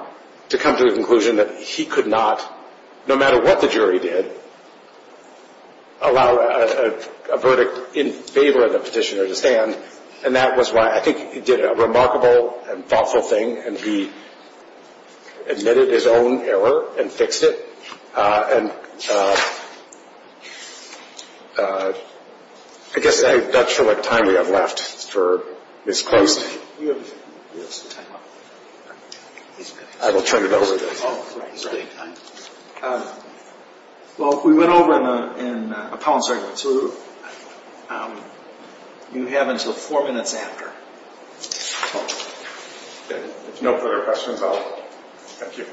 to come to the conclusion that he could not, no matter what the jury did, allow a verdict in favor of the petitioner to stand. And that was why I think he did a remarkable and thoughtful thing, and he admitted his own error and fixed it. And I guess I'm not sure what time we have left for this closing. I will turn it over to you. Well, we went over in a poem, so we have until four minutes after. No further questions at all. Thank you.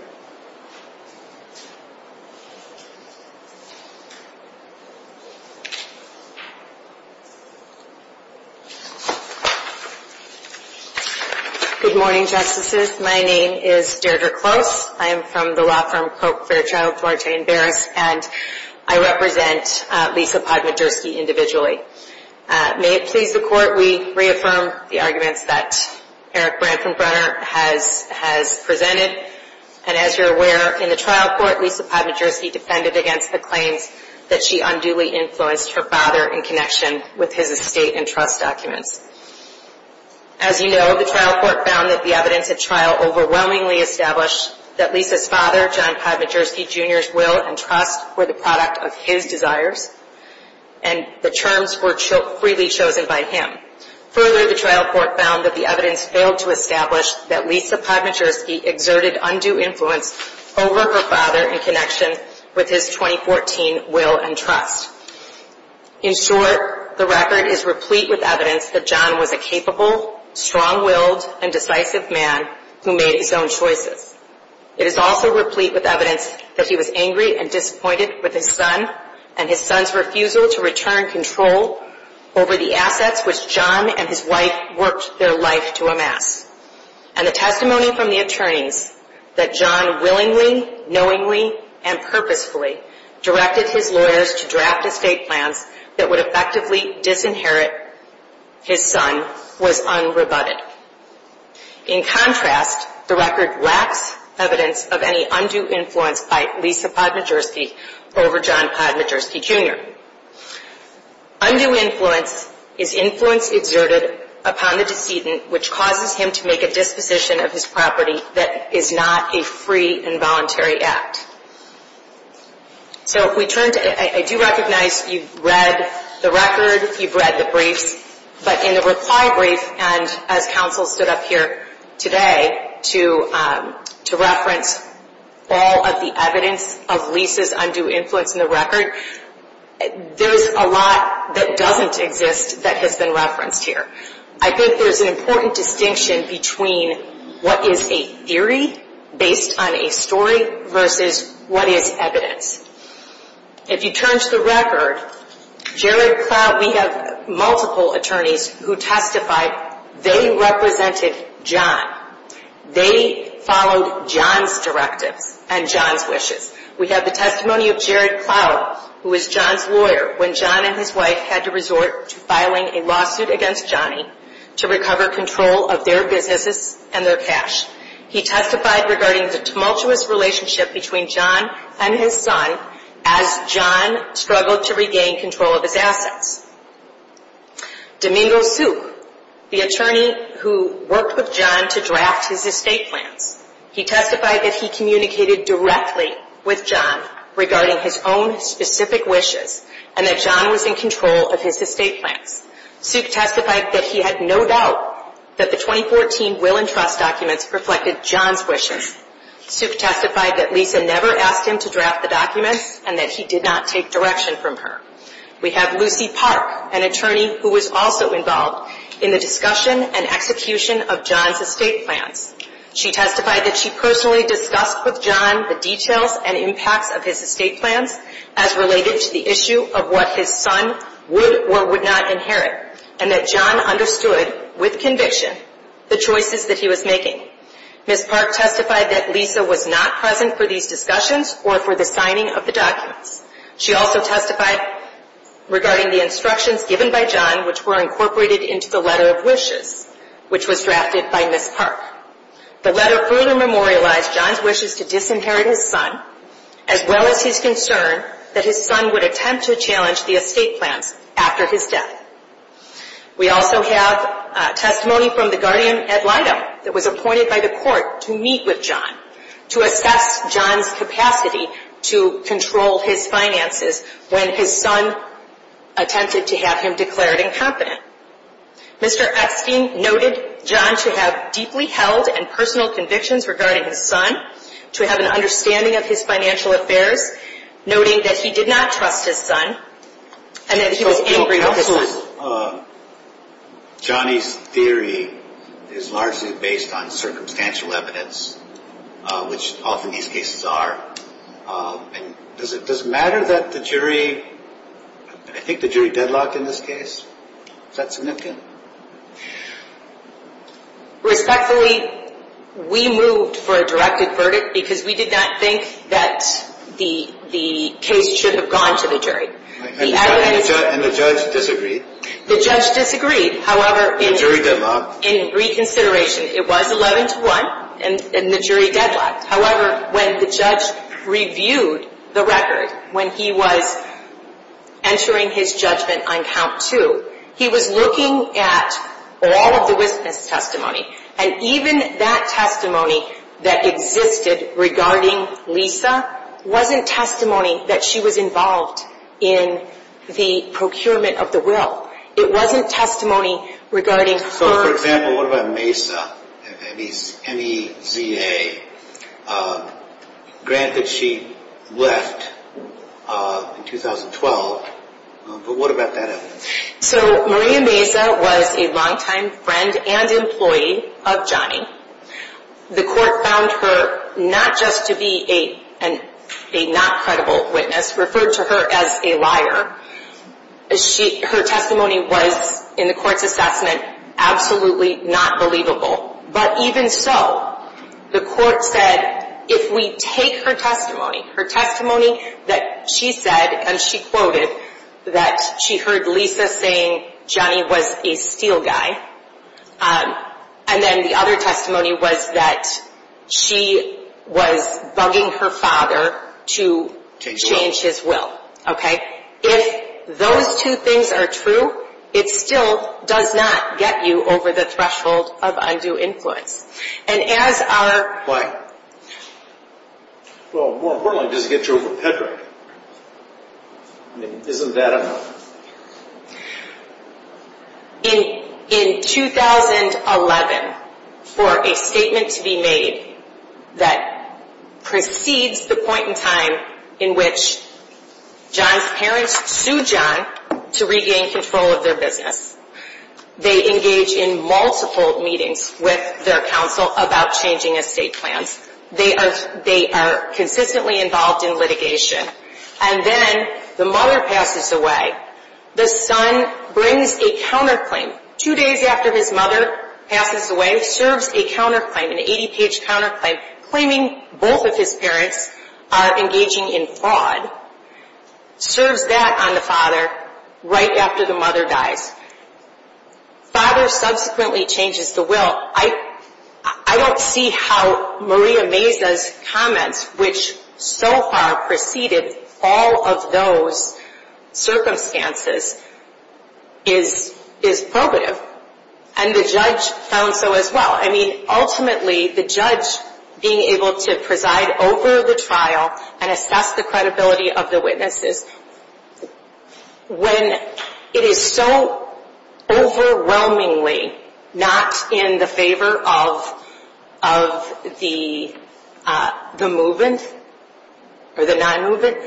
Good morning, Justices. My name is Deirdre Close. I am from the law firm Pope, Fairchild, Forte, and Barrett, and I represent Lisa Padmajerkey individually. May it please the Court, we reaffirm the arguments that Eric Branson Brenner has presented, and as you're aware, in the trial court, Lisa Padmajerkey defended against the claim that she unduly influenced her father in connection with his estate and trust documents. As you know, the trial court found that the evidence at trial overwhelmingly established that Lisa's father, John Padmajerkey Jr.'s will and trust were the product of his desires, and the terms were freely chosen by him. Further, the trial court found that the evidence failed to establish that Lisa Padmajerkey exerted undue influence over her father in connection with his 2014 will and trust. In short, the record is replete with evidence that John was a capable, strong-willed, and decisive man who made his own choices. It is also replete with evidence that he was angry and disappointed with his son and his son's refusal to return control over the assets which John and his wife worked their life to amass. And the testimony from the attorneys that John willingly, knowingly, and purposefully directed his lawyers to draft estate plans that would effectively disinherit his son was unrebutted. In contrast, the record lacks evidence of any undue influence by Lisa Padmajerkey over John Padmajerkey Jr. Undue influence is influence exerted upon the decedent which causes him to make a disposition of his property that is not a free and voluntary act. So, I do recognize you've read the record, you've read the brief, but in a reply brief and as counsel stood up here today to reference all of the evidence of Lisa's undue influence in the record, there's a lot that doesn't exist that has been referenced here. I think there's an important distinction between what is a theory based on a story versus what is evidence. If you turn to the record, we have multiple attorneys who testified. They represented John. They followed John's directive and John's wishes. We have the testimony of Jared Powell who was John's lawyer when John and his wife had to resort to filing a lawsuit against Johnny to recover control of their businesses and their cash. He testified regarding the tumultuous relationship between John and his son as John struggled to regain control of his assets. Domingo Souk, the attorney who worked with John to draft his estate plan. He testified that he communicated directly with John regarding his own specific wishes and that John was in control of his estate plan. Souk testified that he had no doubt that the 2014 Will and Trust documents reflected John's wishes. Souk testified that Lisa never asked him to draft the documents and that he did not take direction from her. We have Lucy Park, an attorney who was also involved in the discussion and execution of John's estate plan. She testified that she personally discussed with John the details and impact of his estate plan as related to the issue of what his son would or would not inherit and that John understood with conviction the choices that he was making. Ms. Park testified that Lisa was not present for these discussions or for the signing of the documents. She also testified regarding the instructions given by John which were incorporated into the letter of wishes which was drafted by Ms. Park. The letter fully memorialized John's wishes to disinherit his son as well as his concern that his son would attempt to challenge the estate plan after his death. We also have testimony from the guardian at Lido that was appointed by the court to meet with John to assess John's capacity to control his finances when his son attempted to have him declared incompetent. Mr. Epstein noted John to have deeply held and personal convictions regarding his son, to have an understanding of his financial affairs, noting that he did not trust his son and that he was angry with his son. Johnny's theory is largely based on circumstantial evidence, which often these cases are. Does it matter that the jury, I think the jury deadlocked in this case? Is that significant? Respectfully, we moved for a directed verdict because we did not think that the case should have gone to the jury. And the judge disagreed? The judge disagreed. The jury deadlocked? In reconsideration, it was 11-1 and the jury deadlocked. However, when the judge reviewed the record, when he was entering his judgment on count two, he was looking at all of the witness testimony, and even that testimony that existed regarding Lisa wasn't testimony that she was involved in the procurement of the will. It wasn't testimony regarding her... For example, what about Mesa, M-E-Z-A? Granted, she left in 2012, but what about that evidence? So, Maria Mesa was a longtime friend and employee of Johnny. The court found her not just to be a not credible witness, referred to her as a liar. Her testimony was, in the court's assessment, absolutely not believable. But even so, the court said if we take her testimony, her testimony that she said, and she quoted, that she heard Lisa saying Johnny was a steal guy, and then the other testimony was that she was bugging her father to change his will. Okay? If those two things are true, it still does not get you over the threshold of undue input. And as our... Well, what in the world does it get you over the threshold? Isn't that enough? In 2011, for a statement to be made that precedes the point in time in which Johnny's parents sued Johnny to regain control of their business. They engage in multiple meetings with their counsel about changing a state plan. They are consistently involved in litigation. And then the mother passes away. The son brings a counterclaim. Two days after his mother passes away, serves a counterclaim, an 80-page counterclaim, claiming both of his parents are engaging in fraud. Serves that on the father right after the mother dies. Father subsequently changes the will. I don't see how Maria Meza's comment, which so far preceded all of those circumstances, is probative. And the judge found so as well. I mean, ultimately, the judge being able to preside over the trial and assess the credibility of the witnesses, when it is so overwhelmingly not in the favor of the move-ins or the non-move-ins,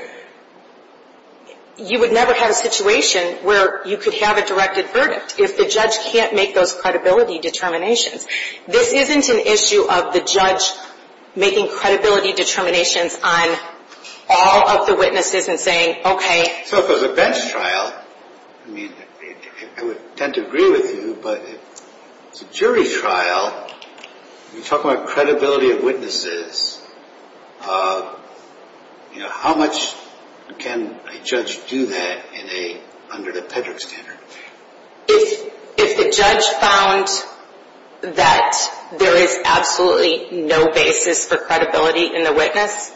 you would never have a situation where you could have a directed verdict if the judge can't make those credibility determinations. This isn't an issue of the judge making credibility determinations on all of the witnesses and saying, okay. So if it was a bench trial, I would tend to agree with you, but if it's a jury trial, you talk about credibility of witnesses, how much can a judge do that under the PEDRAC standard? If the judge found that there is absolutely no basis for credibility in the witness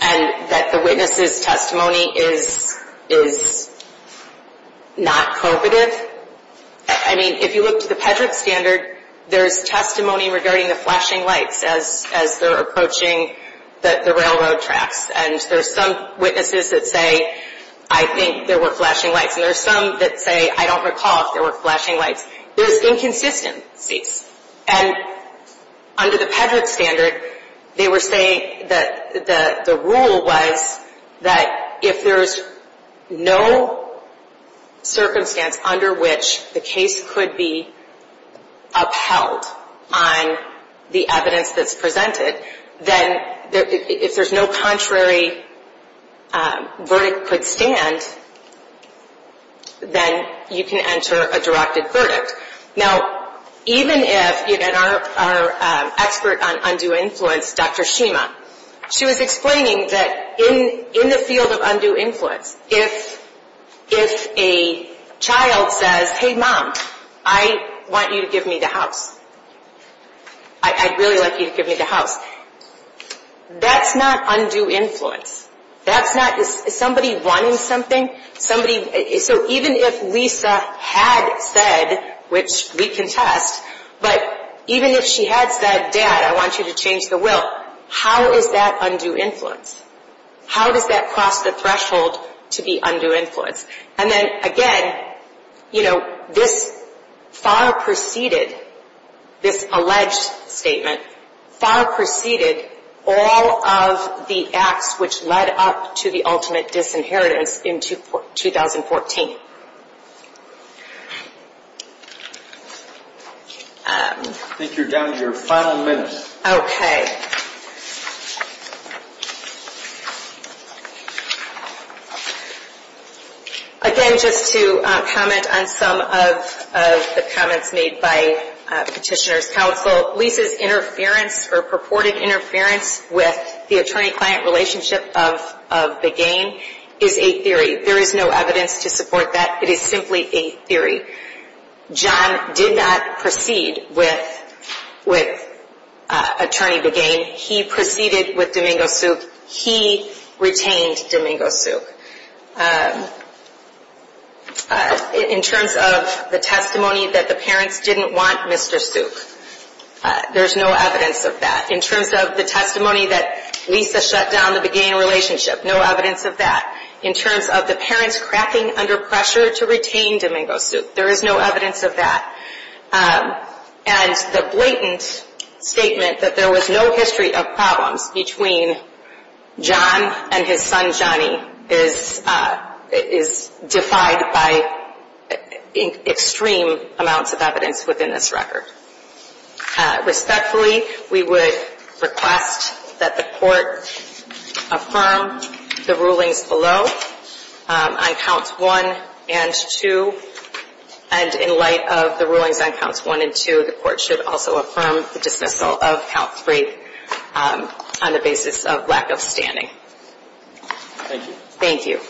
and that the witness's testimony is not probative, I mean, if you look at the PEDRAC standard, there's testimony regarding the flashing lights as they're approaching the railroad tracks. And there's some witnesses that say, I think there were flashing lights. And there's some that say, I don't recall if there were flashing lights. There's inconsistencies. And under the PEDRAC standard, they were saying that the rule was that if there's no circumstance under which the case could be upheld on the evidence that's presented, then if there's no contrary verdict could stand, then you can enter a directed verdict. Now, even if our expert on undue influence, Dr. Shima, she was explaining that in the field of undue influence, if a child says, hey, mom, I want you to give me the house. I'd really like you to give me the house. That's not undue influence. That's not somebody wanting something. So even if Lisa had said, which we can test, but even if she had said, dad, I want you to change the will, how is that undue influence? How does that cross the threshold to be undue influence? And then, again, this far preceded, this alleged statement, far preceded all of the acts which led up to the ultimate disinheritance in 2014. I think you're down to your final minutes. Okay. Again, just to comment on some of the comments made by Petitioner's Counsel, Lisa's interference or purported interference with the attorney-client relationship of the gang is a theory. There is no evidence to support that. It is simply a theory. John did not proceed with Attorney the Gang. He proceeded with Domingo Soup. He retained Domingo Soup. In terms of the testimony that the parents didn't want Mr. Soup, there's no evidence of that. In terms of the testimony that Lisa shut down the gang relationship, no evidence of that. In terms of the parents cracking under pressure to retain Domingo Soup, there is no evidence of that. And the blatant statement that there was no history of problems between John and his son, Johnny, is defied by extreme amounts of evidence within this record. Respectfully, we would request that the court affirm the rulings below on counts 1 and 2. And in light of the rulings on counts 1 and 2, the court should also affirm the dismissal of count 3 on the basis of lack of standing. Thank you. Thank you.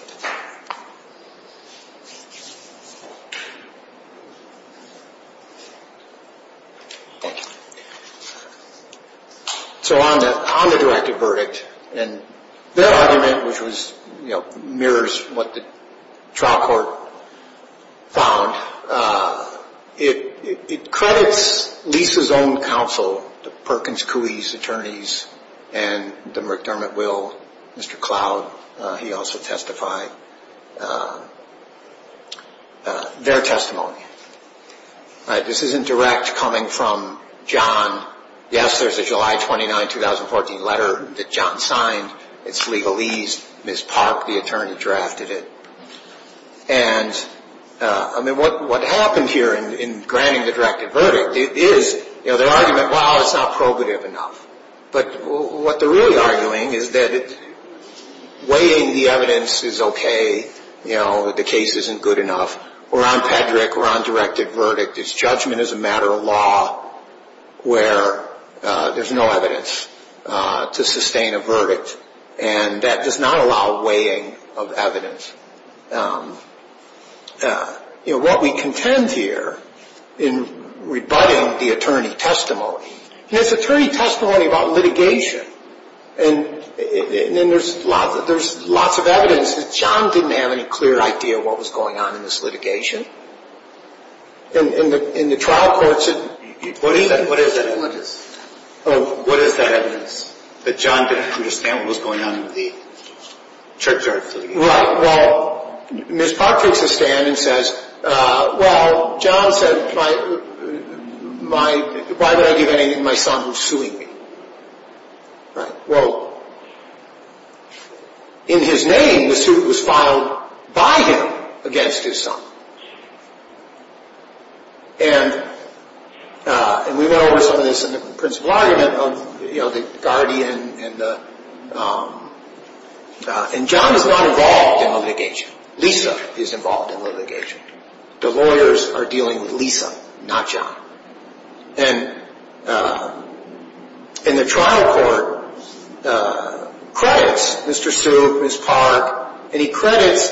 So on the directed verdict, and their argument, which mirrors what the trial court found, it credits Lisa's own counsel, Perkins Coie's attorneys, and the McDermott Will, Mr. Cloud, he also testified, their testimony. This isn't direct coming from John. Yes, there's a July 29, 2014 letter that John signed. It's legalese. Ms. Park, the attorney, drafted it. And what happened here in granting the directed verdict is their argument, well, it's not probative enough. But what they're really arguing is that weighting the evidence is okay. You know, the case isn't good enough. We're on pederick, we're on directed verdict. It's judgment as a matter of law where there's no evidence to sustain a verdict. And that does not allow weighing of evidence. You know, what we contend here in rebutting the attorney's testimony, and it's attorney's testimony about litigation. And there's lots of evidence. John didn't have any clear idea what was going on in this litigation. In the trial courts... What is that evidence? Oh, what is that evidence? That John didn't understand what was going on in the trajectory? Right, well, Ms. Park takes a stand and says, well, John said, why did I do anything? My son was suing me. Right, well, in his name the suit was filed by him against his son. And we know there's a principle argument of, you know, the guardian and the... And John is not involved in litigation. Lisa is involved in litigation. The lawyers are dealing with Lisa, not John. And the trial court credits Mr. Sue, Ms. Park, and he credits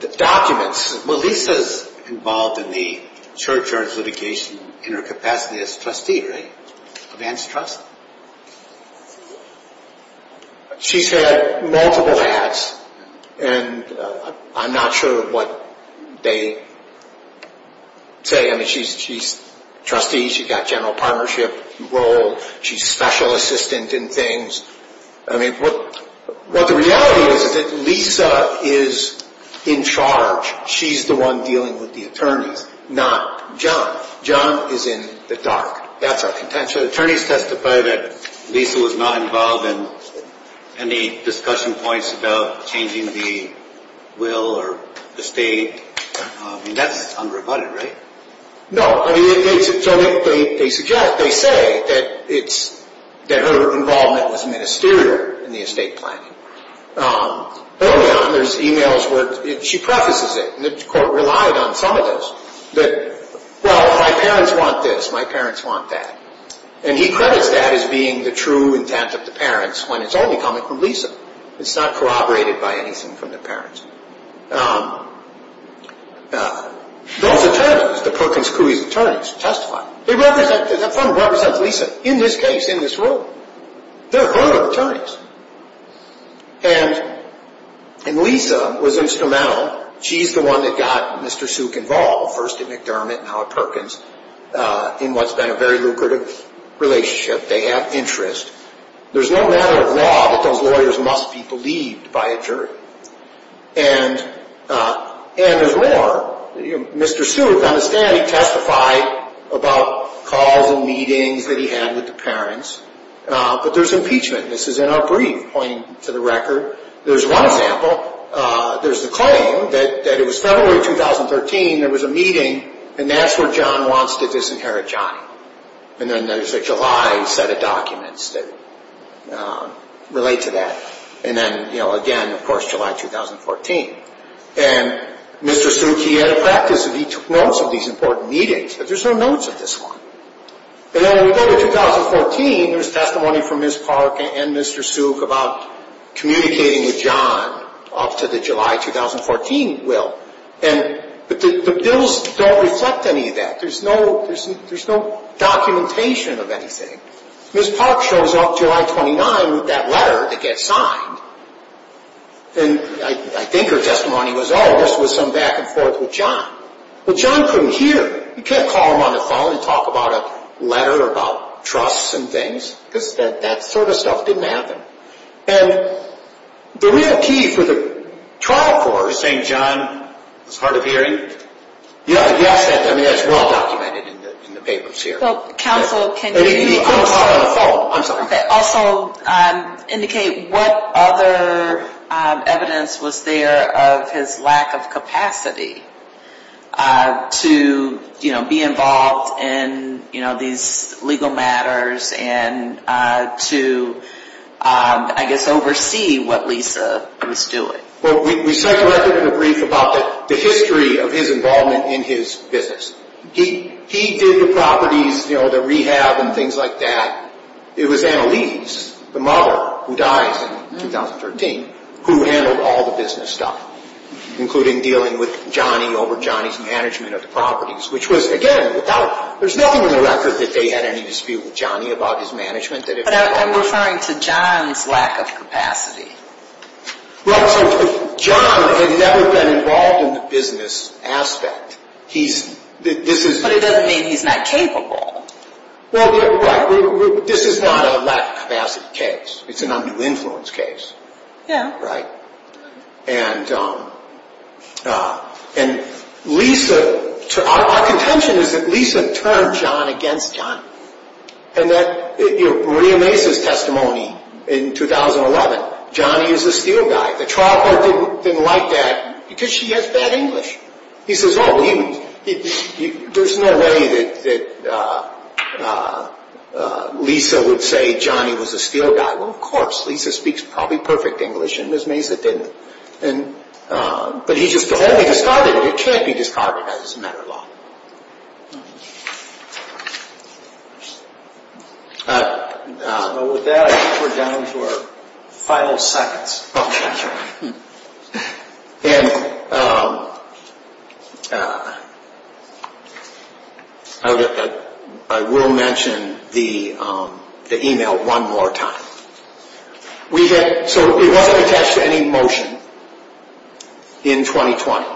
the documents. Well, Lisa's involved in the churchyard litigation in her capacity as trustee, right? A man's trust. She's had multiple ads, and I'm not sure what they say. Again, she's a trustee. She's got general partnership roles. She's a special assistant in things. I mean, what the reality is is that Lisa is in charge. She's the one dealing with the attorneys, not John. John is in the dark. That's our contention. The attorneys testified that Lisa was not involved in any discussing points about changing the will or the state. I mean, that's unrebutted, right? No. I mean, they suggest, they say, that her involvement is ministerial in the estate plan. Early on, there's e-mails where she prefaces it, and the court relied on some of this. That, well, my parents want this, my parents want that. And he credits that as being the true intent of the parents when it's only coming from Lisa. It's not corroborated by anything from the parents. Those attorneys, the Perkins crew is attorneys, testify. They represent Lisa in this case, in this room. They're her attorneys. And Lisa was instrumental. She's the one that got Mr. Suk involved, first in McDermott and now at Perkins, in what's been a very lucrative relationship. They have interests. There's no matter of law that those lawyers must be believed by a jury. And there's more. Mr. Suk, on the stand, testified about calls and meetings that he had with the parents. But there's impeachment. This is in our brief, pointing to the record. There's one example. There's a claim that it was February of 2013, there was a meeting, and that's where John wants to disinherit John. And then there's a July set of documents that relate to that. And then, you know, again, of course, July 2014. And Mr. Suk, he had a practice that he took notes of these important meetings, but there's no notes of this one. And then we go to 2014. There's testimony from Ms. Park and Mr. Suk about communicating with John after the July 2014 will. But the bills don't reflect any of that. There's no documentation of anything. Ms. Park shows up July 29 with that letter to get signed. And I think her testimony was, oh, this was some back and forth with John. But John couldn't hear. You can't call him on the phone and talk about a letter, about trusts and things. That sort of stuff didn't happen. And the real key for the trial court was saying, John, it was hard of hearing. Yeah, yeah, that's well documented in the papers here. Well, counsel, can you also indicate what other evidence was there of his lack of capacity to, you know, be involved in, you know, these legal matters and to, I guess, oversee what Lisa was doing? Well, we certainly have a brief about the history of his involvement in his business. He did the properties, you know, the rehab and things like that. It was Annalise, the mother, who died in 2013, who handled all the business stuff, including dealing with Johnny over Johnny's management of properties, which was, again, there's nothing in the record that they had any dispute with Johnny about his management. But I'm referring to John's lack of capacity. Well, John has never been involved in the business aspect. But it doesn't mean he's not capable. Well, this is not a lack of capacity case. It's an under-influence case. Yeah. And Lisa, our contention is that Lisa turned John against Johnny. And that, you know, re-emphasizes testimony in 2011. Johnny is a steel guy. The trial court didn't like that because she has bad English. He says, oh, there's no way that Lisa would say Johnny was a steel guy. Well, of course. Lisa speaks probably perfect English, and this means that they didn't. But he just can't be discarded. It can't be discarded as a matter of law. Well, with that, I think we're done for five whole seconds. Okay. And I will mention the email one more time. So we weren't attached to any motion in 2020.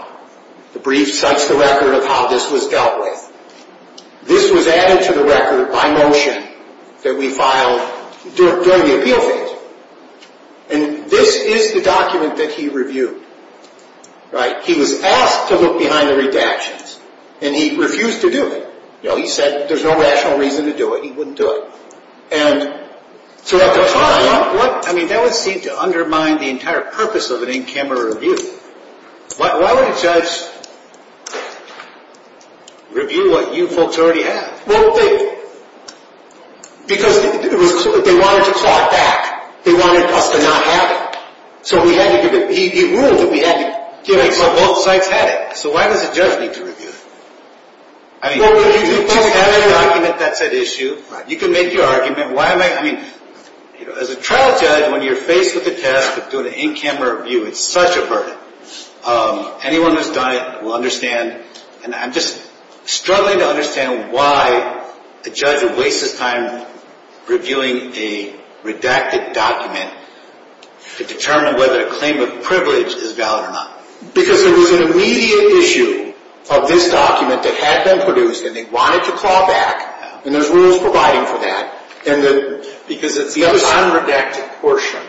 The briefs touched the record of how this was dealt with. This was added to the record by motion that we filed during the appeal phase. And this is the document that he reviewed, right? He was absolutely behind the redactions, and he refused to do it. You know, he said there's no rational reason to do it. He wouldn't do it. And so at the time, I mean, that would seem to undermine the entire purpose of an in-camera review. Why would a judge review what you folks already have? Well, because they wanted to talk back. They wanted us to not have it. So he ruled that we had to do it from both sides. So why does a judge need to review? I mean, you can make your argument. As a trial judge, when you're faced with a test that's doing an in-camera review, it's such a burden. Anyone who's done it will understand. And I'm just struggling to understand why a judge would waste his time reviewing a redacted document to determine whether a claim of privilege is valid or not. Because there was an immediate issue of this document that had been produced, and they wanted to call back, and there's rules providing for that. Because it's the unredacted portion,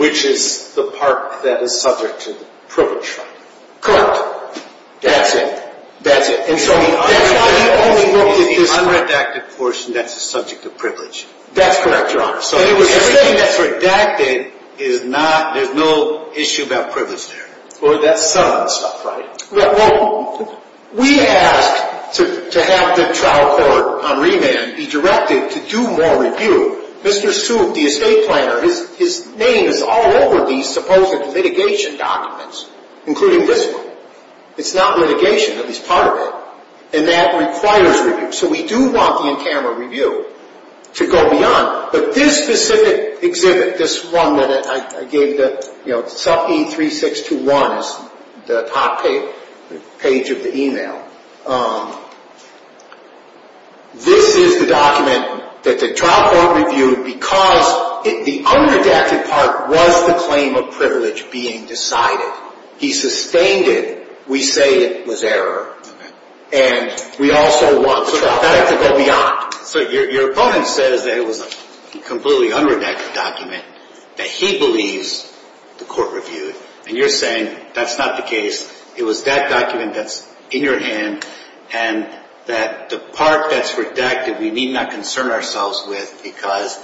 which is the part that is subject to privilege. Correct. That's it. That's it. And so the unredacted portion, that's the subject of privilege. That's correct, Your Honor. So everything that's redacted, there's no issue about privilege there. Well, that somehow stopped Friday. We asked to have the trial court on remand be directed to do more review. Mr. Sue, the estate planner, his name is all over the supposed litigation documents, including this one. It's not litigation, but he's targeted. And that requires a review. So we do want the in-camera review to go beyond. But this specific exhibit, this one that I gave, you know, suffe3621 is the top page of the e-mail. This is the document that the trial court reviewed because the unredacted part was a claim of privilege being decided. He sustained it. We say it was error. And we also want to put that back to go beyond. So your opponent says that it was a completely unredacted document that he believes the court reviewed. And you're saying that's not the case. It was that document that's in your hand and that the part that's redacted we need not concern ourselves with because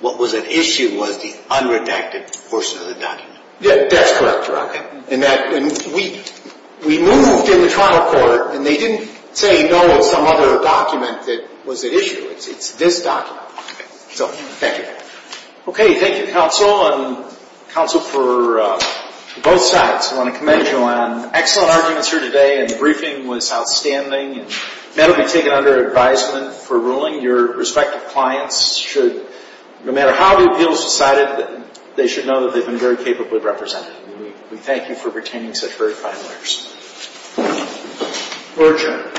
what was at issue was the unredacted portion of the document. That's correct, Your Honor. We moved to the trial court, and they didn't say no to some other document that was at issue. It's this document. Thank you. Okay, thank you, counsel, and counsel for both sides. I want to commend you on an excellent argument here today, and the briefing was outstanding, and that'll be taken under advisement for ruling. Your respective clients should, no matter how you feel about it, they should know that they've been very capably represented. We thank you for retaining such very fine lawyers. Court adjourned.